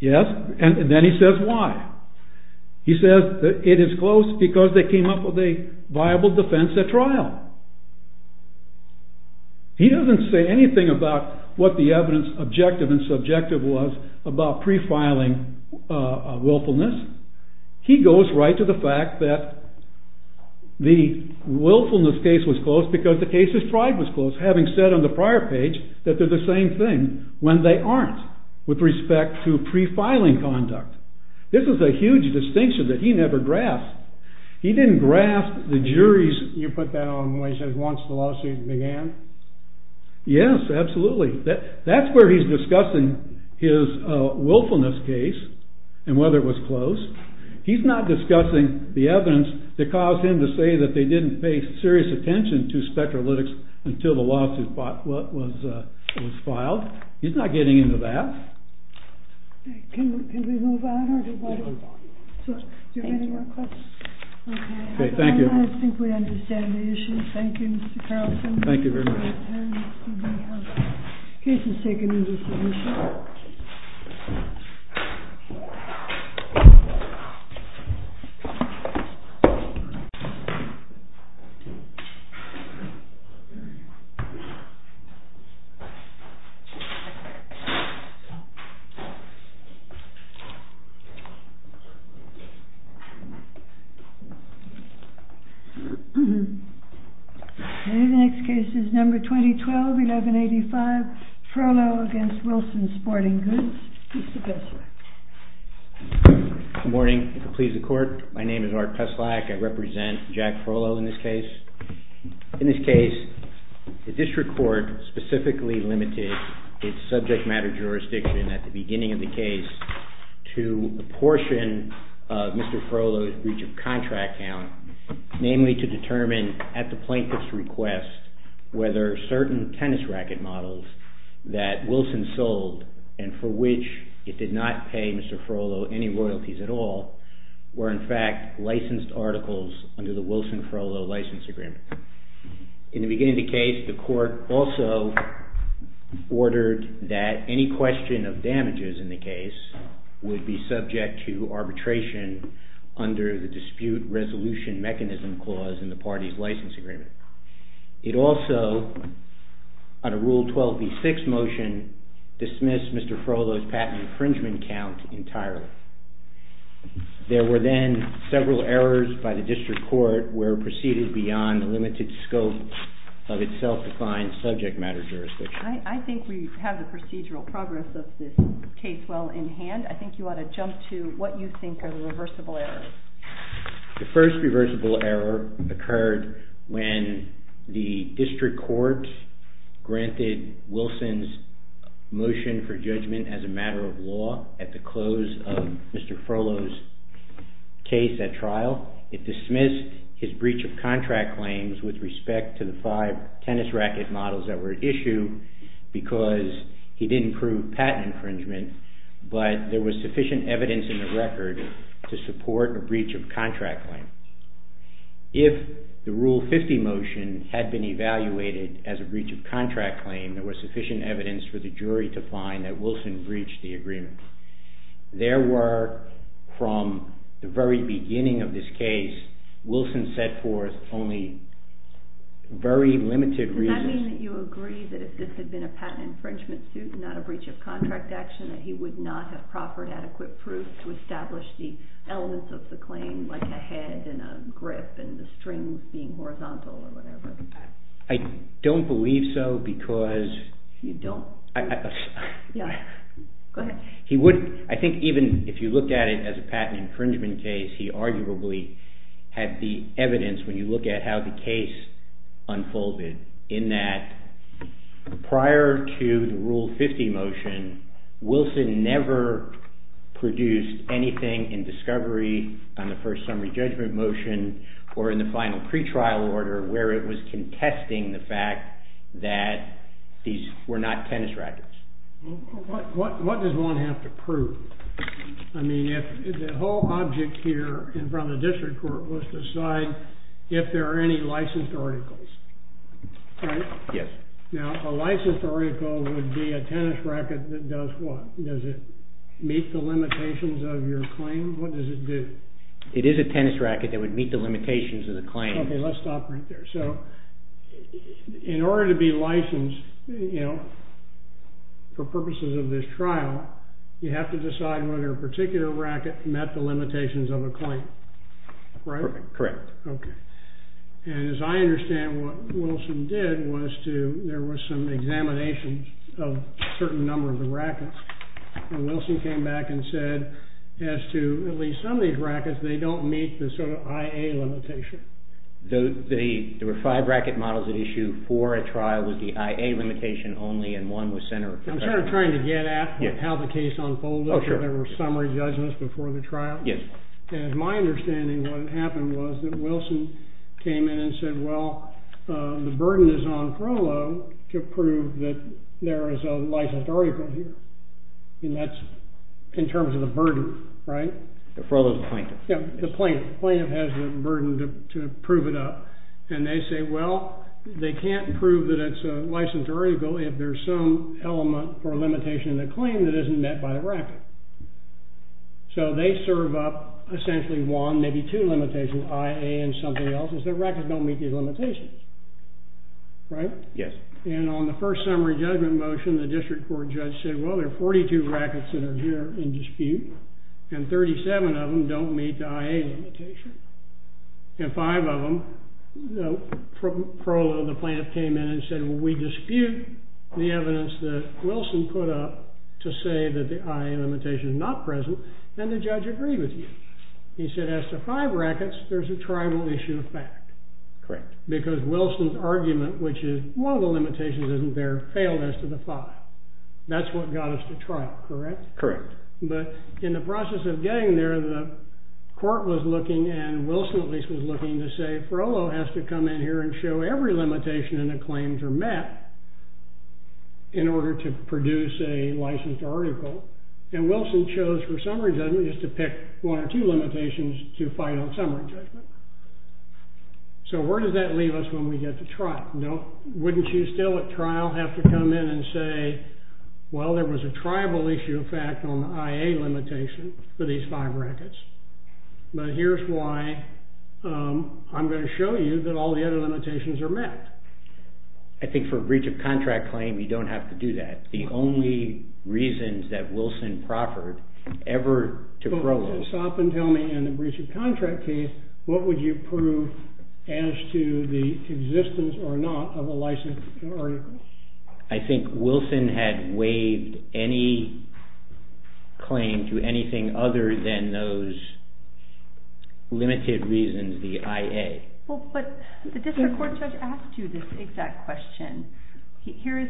Yes. And then he says why. He says it is close because they came up with a viable defense at trial. He doesn't say anything about what the evidence objective and subjective was about pre-filing willfulness. He goes right to the fact that the willfulness case was close because the case described was close, having said on the prior page that they're the same thing when they aren't with respect to pre-filing conduct. This is a huge distinction that he never grasped. He didn't grasp the jury's- You put that on when he says once the lawsuit began? Yes, absolutely. That's where he's discussing his willfulness case and whether it was close. He's not discussing the evidence that caused him to say that they didn't pay serious attention to spectrolytics until the lawsuit was filed. He's not getting into that. Can we move on? Do you have any more questions? Okay, thank you. I think we understand the issue. Thank you, Mr. Carlson. Thank you very much. Case is seconded. Thank you. The next case is number 2012, 1185, Trollo v. Wilson Sporting Goods. Mr. Bessler. Good morning. Please, the Court. My name is Art Teslak. I represent Jack Trollo in this case. In this case, the district court specifically limited its subject matter jurisdiction at the beginning of the case to the portion of Mr. Trollo's breach of contract count, namely to determine at the plaintiff's request whether certain tennis racket models that Wilson sold and for which it did not pay Mr. Trollo any royalties at all were in fact licensed articles under the Wilson-Trollo license agreement. In the beginning of the case, the Court also ordered that any question of damages in the case would be subject to arbitration under the dispute resolution mechanism clause in the party's license agreement. It also, on a Rule 12b-6 motion, dismissed Mr. Trollo's patent infringement count entirely. There were then several errors by the district court where it proceeded beyond the limited scope of its self-defined subject matter jurisdiction. I think we have the procedural progress of this case well in hand. I think you ought to jump to what you think are the reversible errors. The first reversible error occurred when the district court granted Wilson's motion for judgment as a matter of law at the close of Mr. Trollo's case at trial. It dismissed his breach of contract claims with respect to the five tennis racket models that were issued because he didn't prove patent infringement, but there was sufficient evidence in the record to support a breach of contract claim. If the Rule 50 motion had been evaluated as a breach of contract claim, there was sufficient evidence for the jury to find that Wilson breached the agreement. There were, from the very beginning of this case, Wilson set forth only very limited reasons... Does that mean that you agree that if this had been a patent infringement suit and not a breach of contract action, that he would not have proper and adequate proof to establish the elements of the claim like a head and a grip and the strings being horizontal or whatever? I don't believe so because... You don't? Go ahead. I think even if you look at it as a patent infringement case, he arguably had the evidence when you look at how the case unfolded in that prior to the Rule 50 motion, Wilson never produced anything in discovery on the first summary judgment motion or in the final pretrial order where it was contesting the fact that these were not tennis rackets. What does one have to prove? I mean, if the whole object here in front of the district court was to decide if there are any licensed articles, right? Yes. Now, a licensed article would be a tennis racket that does what? Does it meet the limitations of your claim? What does it do? It is a tennis racket that would meet the limitations of the claim. OK, let's stop right there. So, in order to be licensed, you know, for purposes of this trial, you have to decide whether a particular racket met the limitations of a claim, right? Correct. OK. And as I understand, what Wilson did was to, there were some examinations of a certain number of the rackets, and Wilson came back and said, as to at least some of these rackets, they don't meet the sort of IA limitation. There were five racket models at issue for a trial with the IA limitation only, and one was centered... I'm sort of trying to get at how the case unfolded when there were summary judgments before the trial. Yes. And my understanding, what happened was that Wilson came in and said, well, the burden is on Frollo to prove that there is a licensed article here. And that's in terms of the burden, right? Frollo's the plaintiff. Yeah, the plaintiff. The plaintiff has the burden to prove it up. And they said, well, they can't prove that it's a licensed article if there's some element or limitation in the claim that isn't met by a racket. So they serve up essentially one, maybe two limitations, IA and something else, is that rackets don't meet these limitations, right? Yes. And on the first summary judgment motion, the district court judge said, well, there are 42 rackets that are here in dispute, and 37 of them don't meet the IA limitation. And five of them, Frollo, the plaintiff, came in and said, well, we dispute the evidence that Wilson put up to say that the IA limitation is not present. And the judge agreed with him. He said, as to five rackets, there's a tribal issue of fact. Correct. Because Wilson's argument, which is, well, the limitation isn't there, failed as to the five. That's what got us to trial, correct? Correct. But in the process of getting there, the court was looking, and Wilson at least was looking, to say, Frollo has to come in here and show every limitation in the claims are met in order to produce a licensed article. And Wilson chose for summary judgment is to pick one or two limitations to final summary judgment. So where does that leave us when we get to trial? Now, wouldn't you still at trial have to come in and say, well, there was a tribal issue of fact on IA limitation for these five rackets? But here's why. I'm going to show you that all the other limitations are met. I think for breach of contract claim, you don't have to do that. The only reasons that Wilson proffered ever to Frollo. Stop and tell me, in the breach of contract case, what would you prove as to the existence or not of a licensed article? I think Wilson had waived any claim to anything other than those limited reasons, the IA. Well, but the district court judge asked you this exact question. Here is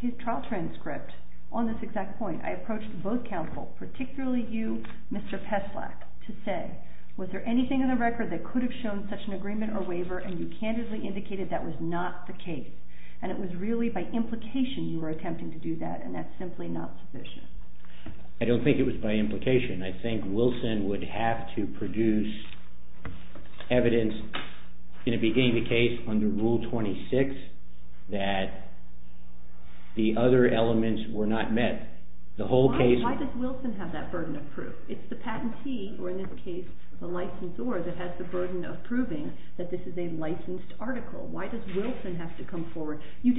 his trial transcript on this exact point. I approached both counsel, particularly you, Mr. Peslack, to say, was there anything in the record that could have shown such an agreement or waiver, and you candidly indicated that was not the case. And it was really by implication you were attempting to do that, and that's simply not sufficient. I don't think it was by implication. I think Wilson would have to produce evidence in a beginning case under Rule 26 that the other elements were not met. Why does Wilson have that burden of proof? It's the patentee, or in this case, the licensor, that has the burden of proving that this is a licensed article. Why does Wilson have to come forward? Why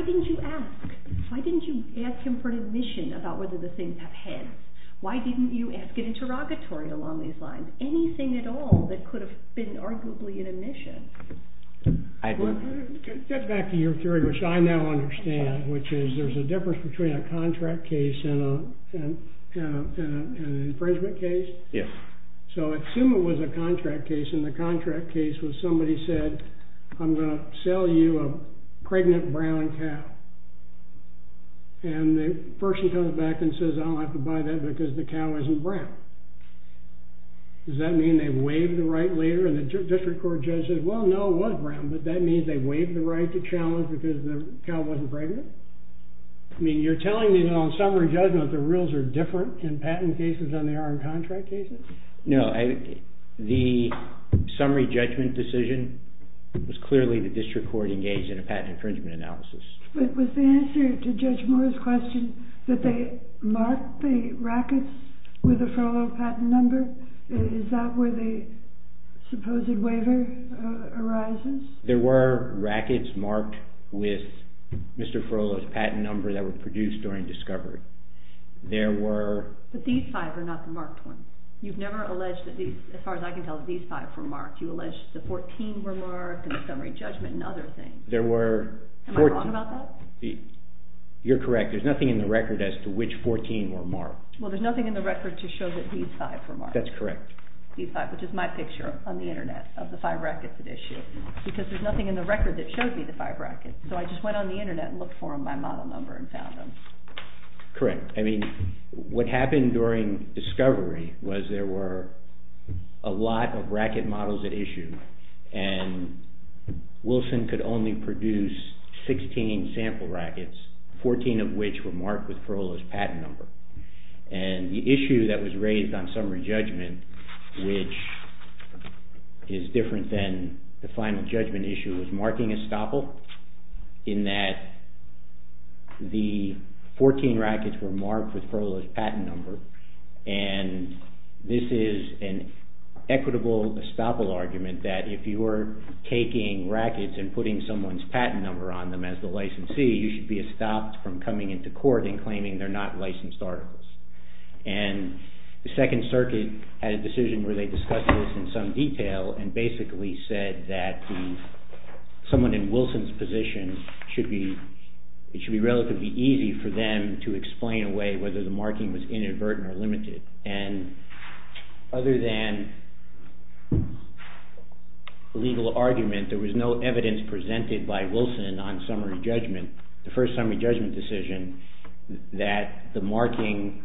didn't you ask? Why didn't you ask him for admission about whether the thing had passed? Why didn't you ask an interrogatory along these lines? Anything at all that could have been arguably an admission. I agree. To get back to your theory, which I now understand, which is there's a difference between a contract case and an infringement case. Yes. So assume it was a contract case, and the contract case was somebody said, I'm going to sell you a pregnant brown cow. And the person comes back and says, I'm going to have to buy that because the cow isn't brown. Does that mean they waived the right later, and the district court judge says, well, no, it was brown, but that means they waived the right to challenge because the cow wasn't pregnant? I mean, you're telling me that on summary judgment the rules are different in patent cases than they are in contract cases? No. The summary judgment decision is clearly the district court engaged in a patent infringement analysis. But was the answer to Judge Moore's question that they marked the rackets with the Frohloff patent number? Is that where the supposed waiver arises? There were rackets marked with Mr. Frohloff's patent number that were produced during discovery. There were... But these five are not the marked ones. You've never alleged that these, as far as I can tell, these five were marked. You allege that the 14 were marked and the summary judgment and other things. There were... Am I wrong about that? You're correct. There's nothing in the record as to which 14 were marked. Well, there's nothing in the record to show that these five were marked. That's correct. These five, which is my picture on the Internet of the five rackets at issue, because there's nothing in the record that shows me the five rackets. So I just went on the Internet and looked for them by model number and found them. Correct. I mean, what happened during discovery was there were a lot of racket models at issue and Wilson could only produce 16 sample rackets, 14 of which were marked with Frohloff's patent number. And the issue that was raised on summary judgment, which is different than the final judgment issue, was marking estoppel, in that the 14 rackets were marked with Frohloff's patent number and this is an equitable estoppel argument that if you were taking rackets and putting someone's patent number on them as the licensee, you should be estopped from coming into court and claiming they're not licensed articles. And the Second Circuit had a decision where they discussed this in some detail and basically said that someone in Wilson's position should be relatively easy for them to explain away whether the marking was inadvertent or limited. And other than legal argument, there was no evidence presented by Wilson on summary judgment, the first summary judgment decision, that the marking,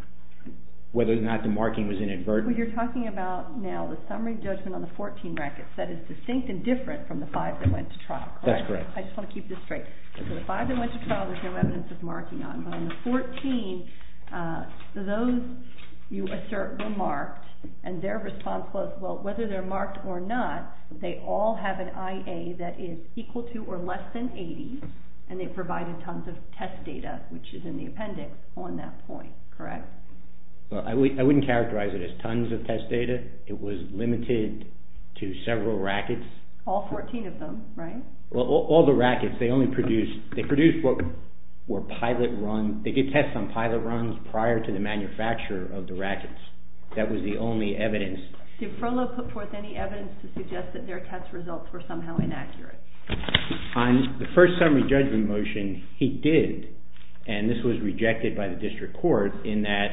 whether or not the marking was inadvertent. What you're talking about now, the summary judgment on the 14 rackets, that is distinct and different from the 5 that went to trial. That's correct. I just want to keep this straight. The 5 that went to trial was no evidence of marking on. The 14, for those you assert were marked and their response was, well, whether they're marked or not, they all have an IA that is equal to or less than 80 and they provided tons of test data, which is in the appendix on that point, correct? I wouldn't characterize it as tons of test data. It was limited to several rackets. All 14 of them, right? All the rackets. They only produced, they produced what were pilot run, they did tests on pilot runs prior to the manufacture of the rackets. That was the only evidence. Did Furlow put forth any evidence to suggest that their test results were somehow inaccurate? On the first summary judgment motion, he did, and this was rejected by the district court, in that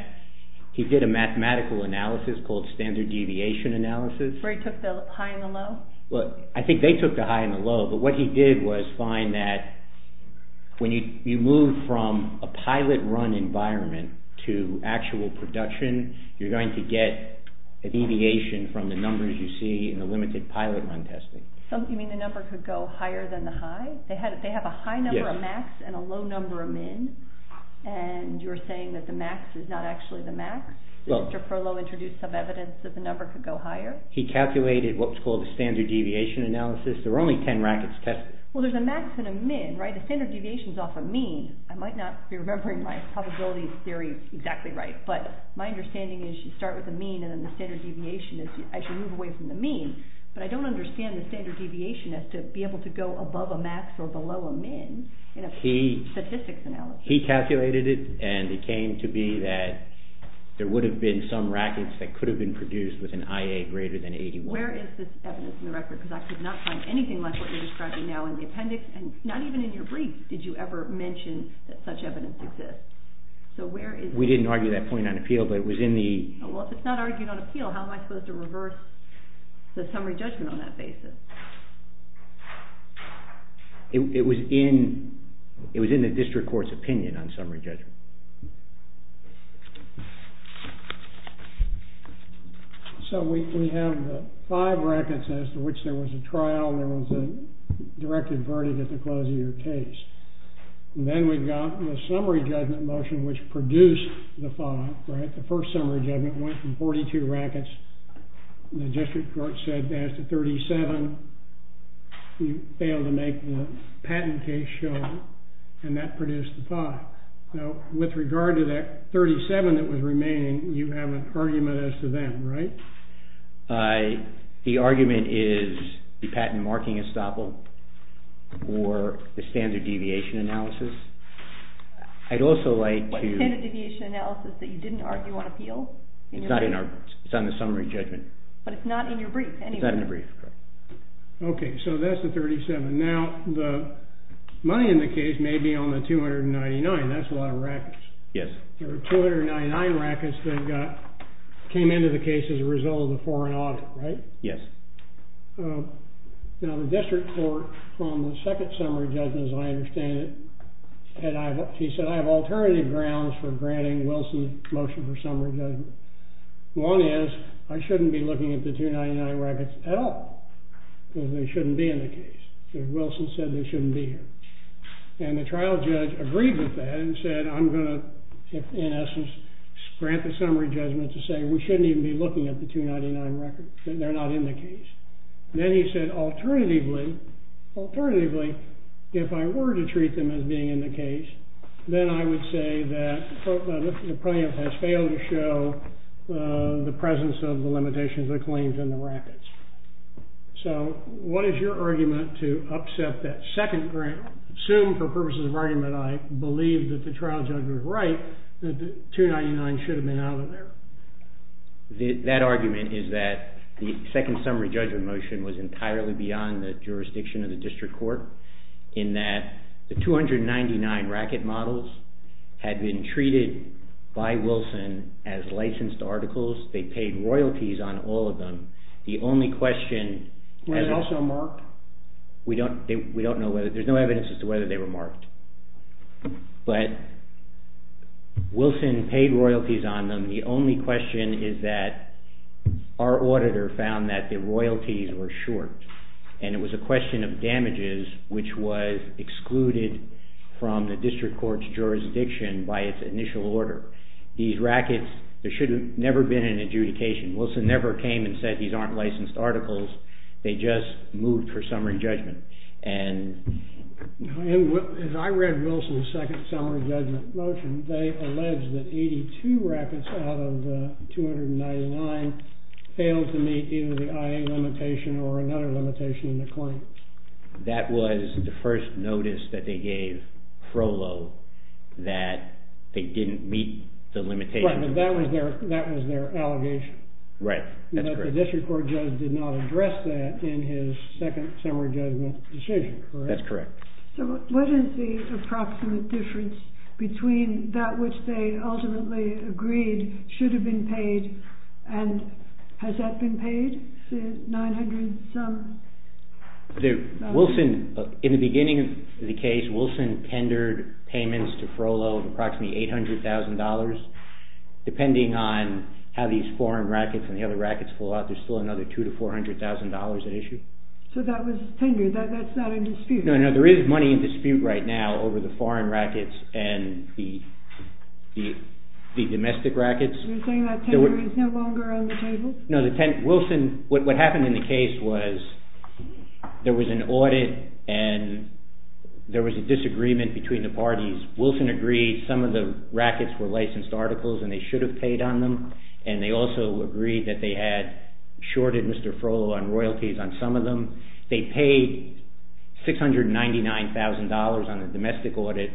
he did a mathematical analysis called standard deviation analysis. Where he took the high and the low? Well, I think they took the high and the low, but what he did was find that when you move from a pilot run environment to actual production, you're going to get a deviation from the numbers you see in the limited pilot run testing. You mean the number could go higher than the high? They have a high number of max and a low number of min, and you're saying that the max is not actually the max? Did Mr. Furlow introduce some evidence that the number could go higher? He calculated what was called the standard deviation analysis. There were only 10 rackets tested. Well, there's a max and a min, right? The standard deviation is off a mean. I might not be remembering my probability theory exactly right, but my understanding is you start with a mean and then the standard deviation is you actually move away from the mean. But I don't understand the standard deviation as to be able to go above a max or below a min in a statistics analysis. He calculated it, and it came to be that there would have been some rackets that could have been produced with an IA greater than 81. Where is this evidence in the record? Because I could not find anything like what you're describing now in the appendix, and not even in your brief did you ever mention that such evidence exists. So where is this evidence? We didn't argue that point on appeal, but it was in the... Well, if it's not argued on appeal, how am I supposed to reverse the summary judgment on that basis? It was in the district court's opinion on summary judgment. So we can have five rackets as to which there was a trial, there was a directed verdict at the close of your case. And then we got the summary judgment motion which produced the five, right? The first summary judgment went from 42 rackets. The district court said as to 37, we failed to make the patent case show, and that produced the five. Now, with regard to that 37 that was remaining, you have an argument as to them, right? The argument is the patent marking is stoppable or the standard deviation analysis. I'd also like to... What standard deviation analysis that you didn't argue on appeal? It's not in our... It's on the summary judgment. But it's not in your brief anyway. It's not in the brief. Okay, so that's the 37. Now, the money in the case may be on the 299. That's a lot of rackets. Yes. There were 299 rackets that came into the case as a result of the foreign audit, right? Yes. Now, the district court from the second summary judgment, as I understand it, she said I have alternative grounds for granting the Wilson motion for summary judgment. One is I shouldn't be looking at the 299 rackets at all. They shouldn't be in the case. Wilson said they shouldn't be. And the trial judge agreed with that and said I'm going to, in essence, grant the summary judgment to say we shouldn't even be looking at the 299 rackets. They're not in the case. Then he said alternatively, alternatively, if I were to treat them as being in the case, then I would say that the plaintiff has failed to show the presence of the limitations of the claims in the rackets. So what is your argument to upset that second grant? Assume for purposes of argument, I believe that the trial judge was right that the 299 should have been out of there. That argument is that the second summary judgment motion was entirely beyond the jurisdiction of the district court in that the 299 racket models had been treated by Wilson as licensed articles. They paid royalties on all of them. The only question... Were they also marked? We don't know. There's no evidence as to whether they were marked. But Wilson paid royalties on them. The only question is that our auditor found that the royalties were short. And it was a question of damages which was excluded from the district court's jurisdiction by its initial order. These rackets, there should have never been an adjudication. Wilson never came and said these aren't licensed articles. They just moved for summary judgment. If I read Wilson's second summary judgment motion, they allege that 82 rackets out of the 299 failed to meet either the IA limitation or another limitation in the claim. That was the first notice that they gave Frollo that they didn't meet the limitations. That was their allegation. The district court judge did not address that in his second summary judgment decision, correct? That's correct. So what is the approximate difference between that which they ultimately agreed should have been paid, and has that been paid? In the beginning of the case, Wilson tendered payments to Frollo of approximately $800,000. Depending on how these foreign rackets and the other rackets fall out, there's still another $200,000 to $400,000 at issue. So that was tendered? That's not in dispute? No, no, there is money in dispute right now over the foreign rackets and the domestic rackets. You're saying that tender is no longer on the table? No, Wilson, what happened in the case was there was an audit and there was a disagreement between the parties. Wilson agreed some of the rackets were licensed articles and they should have paid on them, and they also agreed that they had shorted Mr. Frollo on royalties on some of them. They paid $699,000 on the domestic audit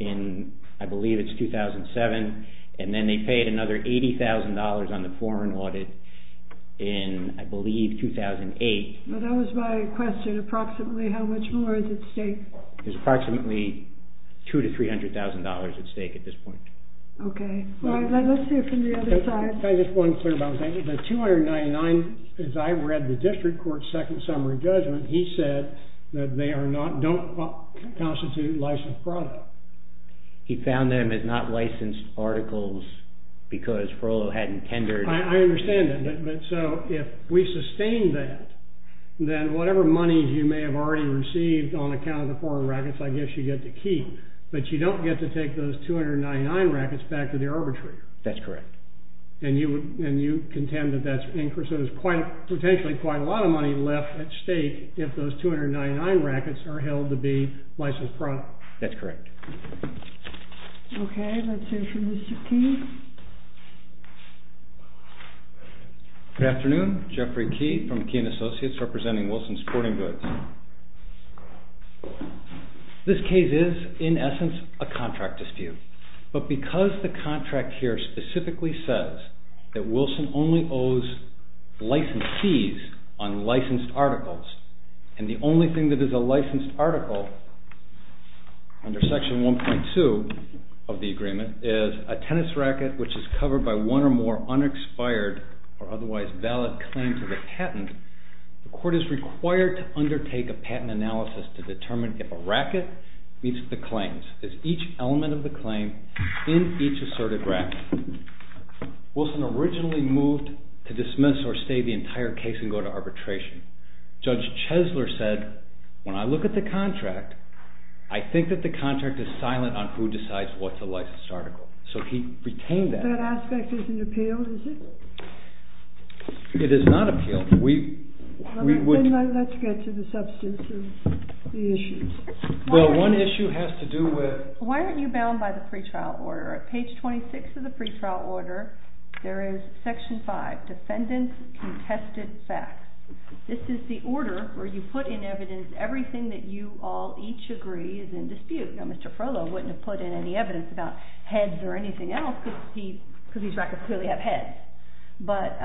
in, I believe it's 2007, and then they paid another $80,000 on the foreign audit in, I believe, 2008. That was my question. Approximately how much more is at stake? Approximately $200,000 to $300,000 at stake at this point. Okay. Let's hear from the other side. I just want to clarify, the $299,000, as I read the district court's second summary judgment, he said that they don't constitute licensed products. He found them as not licensed articles because Frollo hadn't tendered. I understand that, but so if we sustain that, then whatever money you may have already received on account of the foreign brackets, I guess you get to keep, but you don't get to take those $299,000 brackets back to the arbitrator. That's correct. And you contend that that's, because there's potentially quite a lot of money left at stake if those $299,000 brackets are held to be licensed products. That's correct. Okay, let's hear from Mr. Keene. Good afternoon. Jeffrey Keene from Keene Associates representing Wilson Sporting Goods. This case is, in essence, a contract dispute, but because the contract here specifically says that Wilson only owes licensees on licensed articles and the only thing that is a licensed article under Section 1.2 of the agreement is a tennis racket which is covered by one or more The court is required to undertake a patent analysis to determine if a racket meets the claims. Is each element of the claim in each asserted racket? Wilson originally moved to dismiss or stay the entire case and go to arbitration. Judge Chesler said, when I look at the contract, I think that the contract is silent on who decides what's a licensed article. So he retained that. That aspect isn't appealed, is it? It is not appealed. Let's get to the substance of the issue. Well, one issue has to do with... Why aren't you bound by the pretrial order? At page 26 of the pretrial order, there is Section 5, Defendant's Contested Facts. This is the order where you put in evidence everything that you all each agree is in dispute. Now, Mr. Frodo wouldn't have put in any evidence about heads or anything else because he's right to clearly have heads. But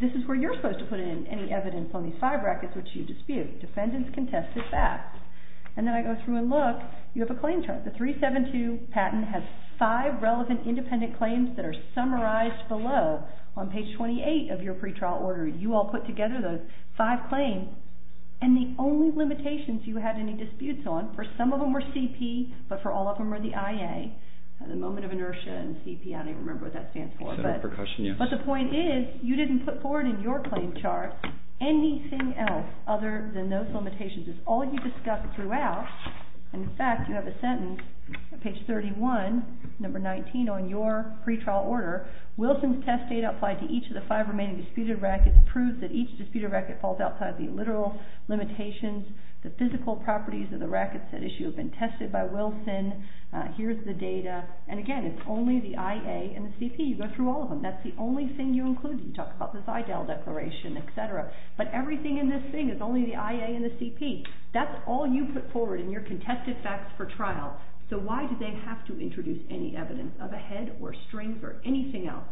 this is where you're supposed to put in any evidence on these five rackets which you dispute. Defendant's Contested Facts. And then I go through and look. You have a claim chart. The 372 patent has five relevant independent claims that are summarized below on page 28 of your pretrial order. You all put together those five claims and the only limitations you have any disputes on, for some of them are CP, but for all of them are the IA. At the moment of inertia in CP, I don't even remember what that stands for. But the point is, you didn't put forward in your claim chart anything else other than those limitations. It's all you discussed throughout. In fact, you have a sentence on page 31, number 19 on your pretrial order. Wilson's test data applied to each of the five remaining disputed rackets proves that each disputed racket falls outside the literal limitations. The physical properties of the rackets at issue have been tested by Wilson. Here's the data. And again, it's only the IA and the CP. You go through all of them. That's the only thing you include. You talk about the Seidel declaration, et cetera. But everything in this thing is only the IA and the CP. That's all you put forward in your contested facts for trial. So why did they have to introduce any evidence of a head or strings or anything else?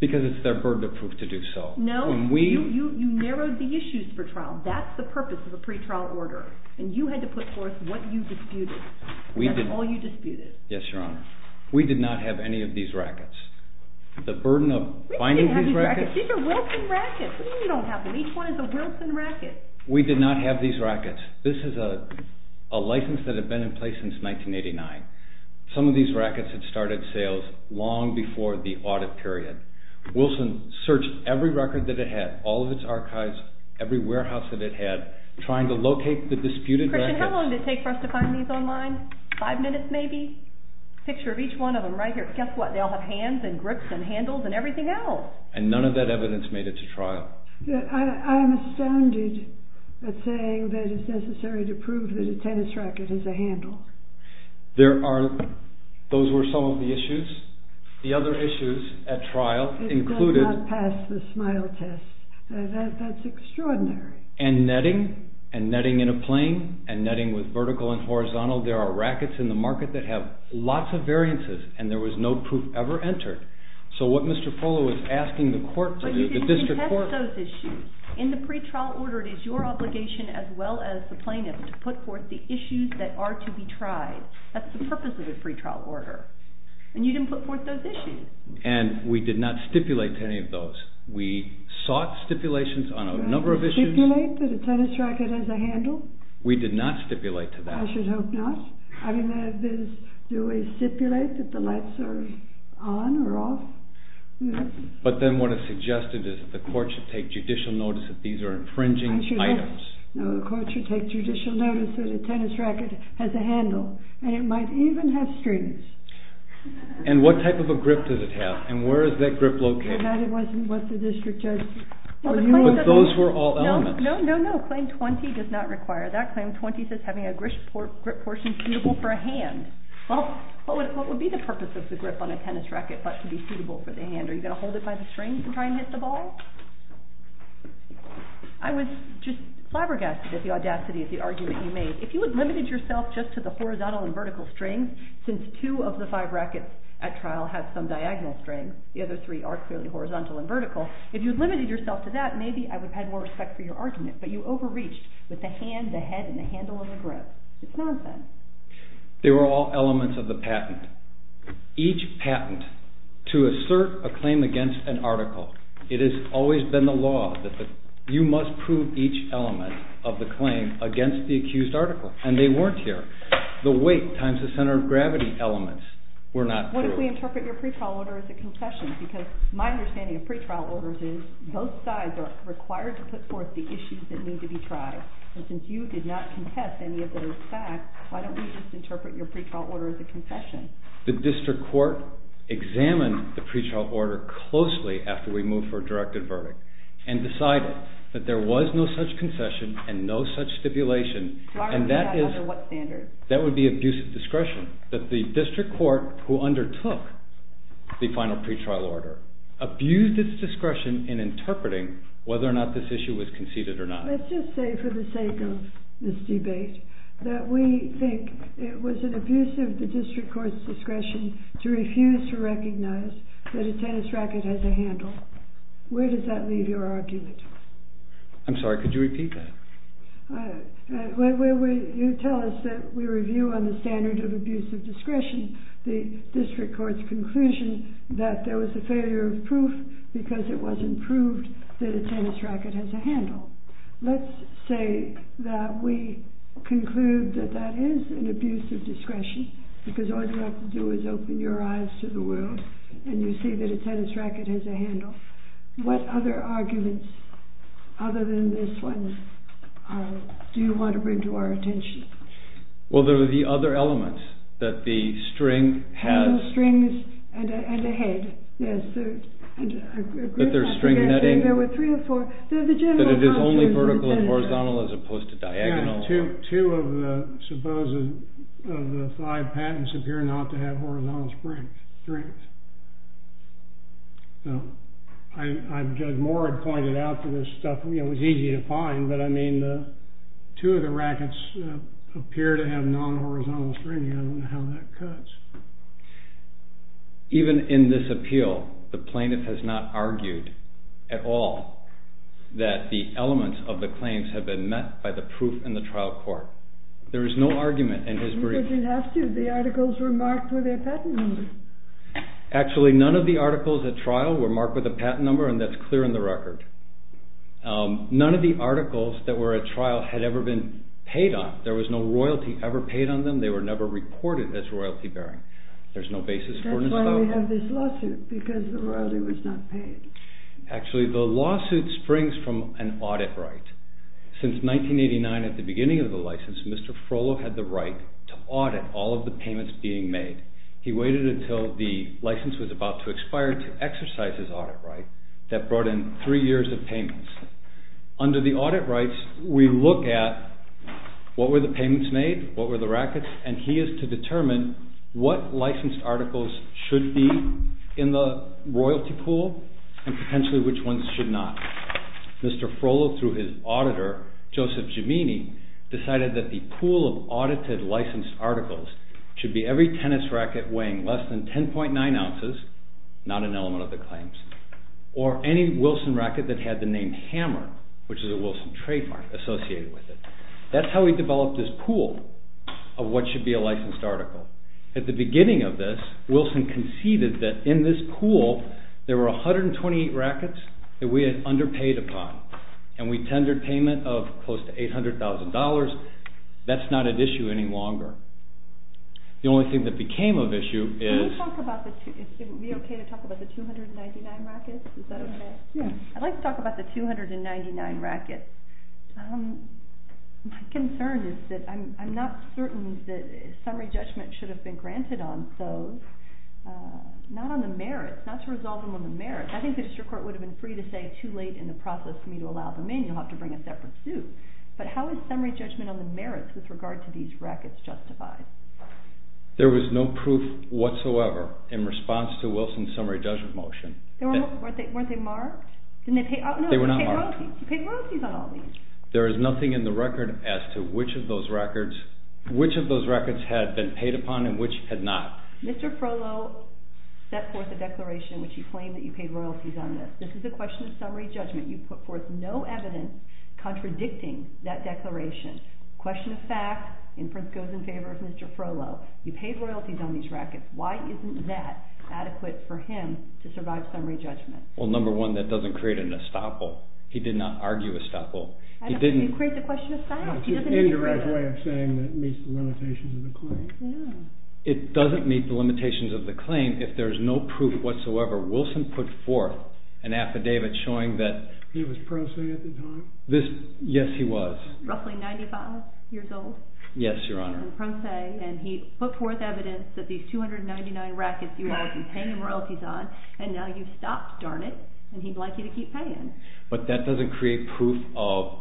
Because it's their burden of proof to do so. No, you narrowed the issues for trial. That's the purpose of a pretrial order. And you had to put forth what you disputed. That's all you disputed. Yes, Your Honor. We did not have any of these rackets. The burden of finding these rackets... These are Wilson rackets. What do you mean you don't have them? Each one is a Wilson racket. We did not have these rackets. This is a license that had been in place since 1989. Some of these rackets had started sales long before the audit period. Wilson searched every racket that it had, all of its archives, every warehouse that it had, trying to locate the disputed rackets... Christian, how long did it take for us to find these online? Five minutes, maybe? Picture of each one of them right here. Guess what? They all have hands and grips and handles and everything else. And none of that evidence made it to trial. I'm astounded at saying that it's necessary to prove that a tennis racket is a handle. Those were some of the issues. The other issues at trial included... It does not pass the SMILE test. That's extraordinary. And netting. And netting in a plane. And netting with vertical and horizontal. There are rackets in the market that have lots of variances, and there was no proof ever entered. So what Mr. Frohlo was asking the court... But you didn't contest those issues. In the pretrial order, it is your obligation, as well as the plaintiff's, to put forth the issues that are to be tried. That's the purpose of the pretrial order. And you didn't put forth those issues. And we did not stipulate to any of those. We sought stipulations on a number of issues. Did you stipulate that a tennis racket has a handle? We did not stipulate to that. I should hope not. I mean, I did stipulate that the lights are on or off. But then what it suggested is that the court should take judicial notice that these are infringing items. No, the court should take judicial notice that a tennis racket has a handle. And it might even have strings. And what type of a grip does it have? And where is that grip located? That wasn't what the district judge... But those were all elements. No, no, no. Claim 20 does not require that. Claim 20 says having a grip portion suitable for a hand. Well, what would be the purpose of the grip on a tennis racket that should be suitable for the hand? Are you going to hold it by the strings to try and hit the ball? I was just flabbergasted at the audacity of the argument you made. If you had limited yourself just to the horizontal and vertical strings, since two of the five rackets at trial have some diagonal strings, the other three are clearly horizontal and vertical, if you had limited yourself to that, maybe I would have had more respect for your argument. But you overreached with the hand, the head, and the handle of the grip. It's nonsense. They were all elements of the patent. Each patent, to assert a claim against an article, it has always been the law that you must prove each element of the claim against the accused article. And they weren't here. The weight times the center of gravity elements were not here. What if we interpret your pretrial order as a concession? Because my understanding of pretrial orders is both sides are required to put forth the issues that need to be tried. And since you did not contest any of those facts, why don't you just interpret your pretrial order as a concession? The district court examined the pretrial order closely after we moved for a directive verdict and decided that there was no such concession and no such stipulation. And that is That would be abuse of discretion. But the district court who undertook the final pretrial order abused its discretion in interpreting whether or not this issue was conceded or not. Let's just say for the sake of this debate that we think it was an abuse of the district court's discretion to refuse to recognize that a tennis racket has a handle. Where does that leave your argument? I'm sorry, could you repeat that? When you tell us that we review on the standard of abuse of discretion the district court's conclusion that there was a failure of proof because it wasn't proved that a tennis racket has a handle. Let's say that we conclude that that is an abuse of discretion because all you have to do is open your eyes to the world and you see that a tennis racket has a handle. What other arguments other than this one do you want to bring to our attention? Well, there are the other elements that the string has a handle, strings, and a head. But there's only vertical and horizontal as opposed to diagonal. Two of the five patents appear not to have horizontal strings. I'd go more and point it out for this stuff. It was easy to find. Two of the rackets appear to have non-horizontal strings. I don't know how that cuts. Even in this appeal, the plaintiff has not argued at all that the elements of the claims have been met by the proof in the trial court. There is no argument in his brief. The articles were marked with a patent number. Actually, none of the articles at trial were marked with a patent number and that's clear in the record. None of the articles that were at trial had ever been paid on. There was no royalty ever paid on them. They were never recorded as royalty bearing. That's why we have this lawsuit, because the royalty was not paid. Actually, the lawsuit springs from an audit right. Since 1989, at the beginning of the license, Mr. Frollo had the right to audit all of the payments being made. He waited until the license was about to expire to exercise his audit right. That brought in three years of payments. Under the audit rights, we look at what were the payments made, what were the rackets, and he is to determine what licensed articles should be in the royalty pool and potentially which ones should not. Mr. Frollo, through his auditor, Joseph Gemini, decided that the pool of audited licensed articles should be every tennis racket weighing less than 10.9 ounces, not an element of the claims, or any Wilson racket that had the name Hammer, which is a Wilson trademark associated with it. That's how we developed this pool of what should be a licensed article. At the beginning of this, Wilson conceded that in this pool there were 128 rackets that we had underpaid upon and we tendered payment of close to $800,000. That's not at issue any longer. The only thing that became of issue is... I'd like to talk about the 299 rackets. My concern is that I'm not certain that summary judgment should have been granted on those. Not on the merits, not to resolve them on the merits. I think the district court would have been free to say too late in the process for me to allow them in. You'll have to bring a separate suit. But how is summary judgment on the merits with regard to these rackets justified? There was no proof whatsoever in response to Wilson's summary judgment motion. Weren't they marked? They were not marked. You paid royalties on all of these. There is nothing in the record as to which of those records had been paid upon and which had not. Mr. Frohlo set forth a declaration in which he claimed that you paid royalties on this. This is a question of summary judgment. You put forth no evidence contradicting that declaration. Question of fact, inference goes in favor of Mr. Frohlo. You paid royalties on these rackets. Why isn't that adequate for him to survive summary judgment? Well, number one, that doesn't create an estoppel. He did not argue estoppel. He didn't create the question of fact. It doesn't meet the limitations of the claim if there's no proof whatsoever. Wilson put forth an affidavit showing that... Yes, he was. Yes, Your Honor. He put forth evidence that these 299 rackets you have been paying royalties on, and now you've stopped, darn it, and he'd like you to keep paying. But that doesn't create proof of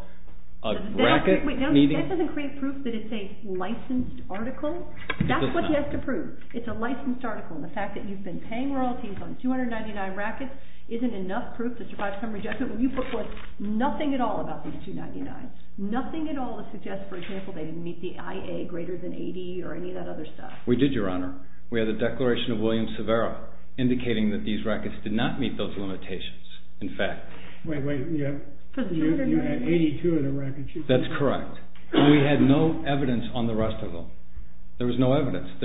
a racket meeting... That doesn't create proof that it's a licensed article. That's what he has to prove. It's a licensed article, and the fact that you've been paying royalties on 299 rackets isn't enough proof to survive summary judgment. When you put forth nothing at all about these 299, nothing at all that suggests, for example, that they meet the IA greater than 80 or any of that other stuff. We did, Your Honor. We had a declaration of William Severo indicating that these rackets did not meet those limitations. In fact... Wait, wait, you have... That's correct. We had no evidence on the rest of them. There was no evidence.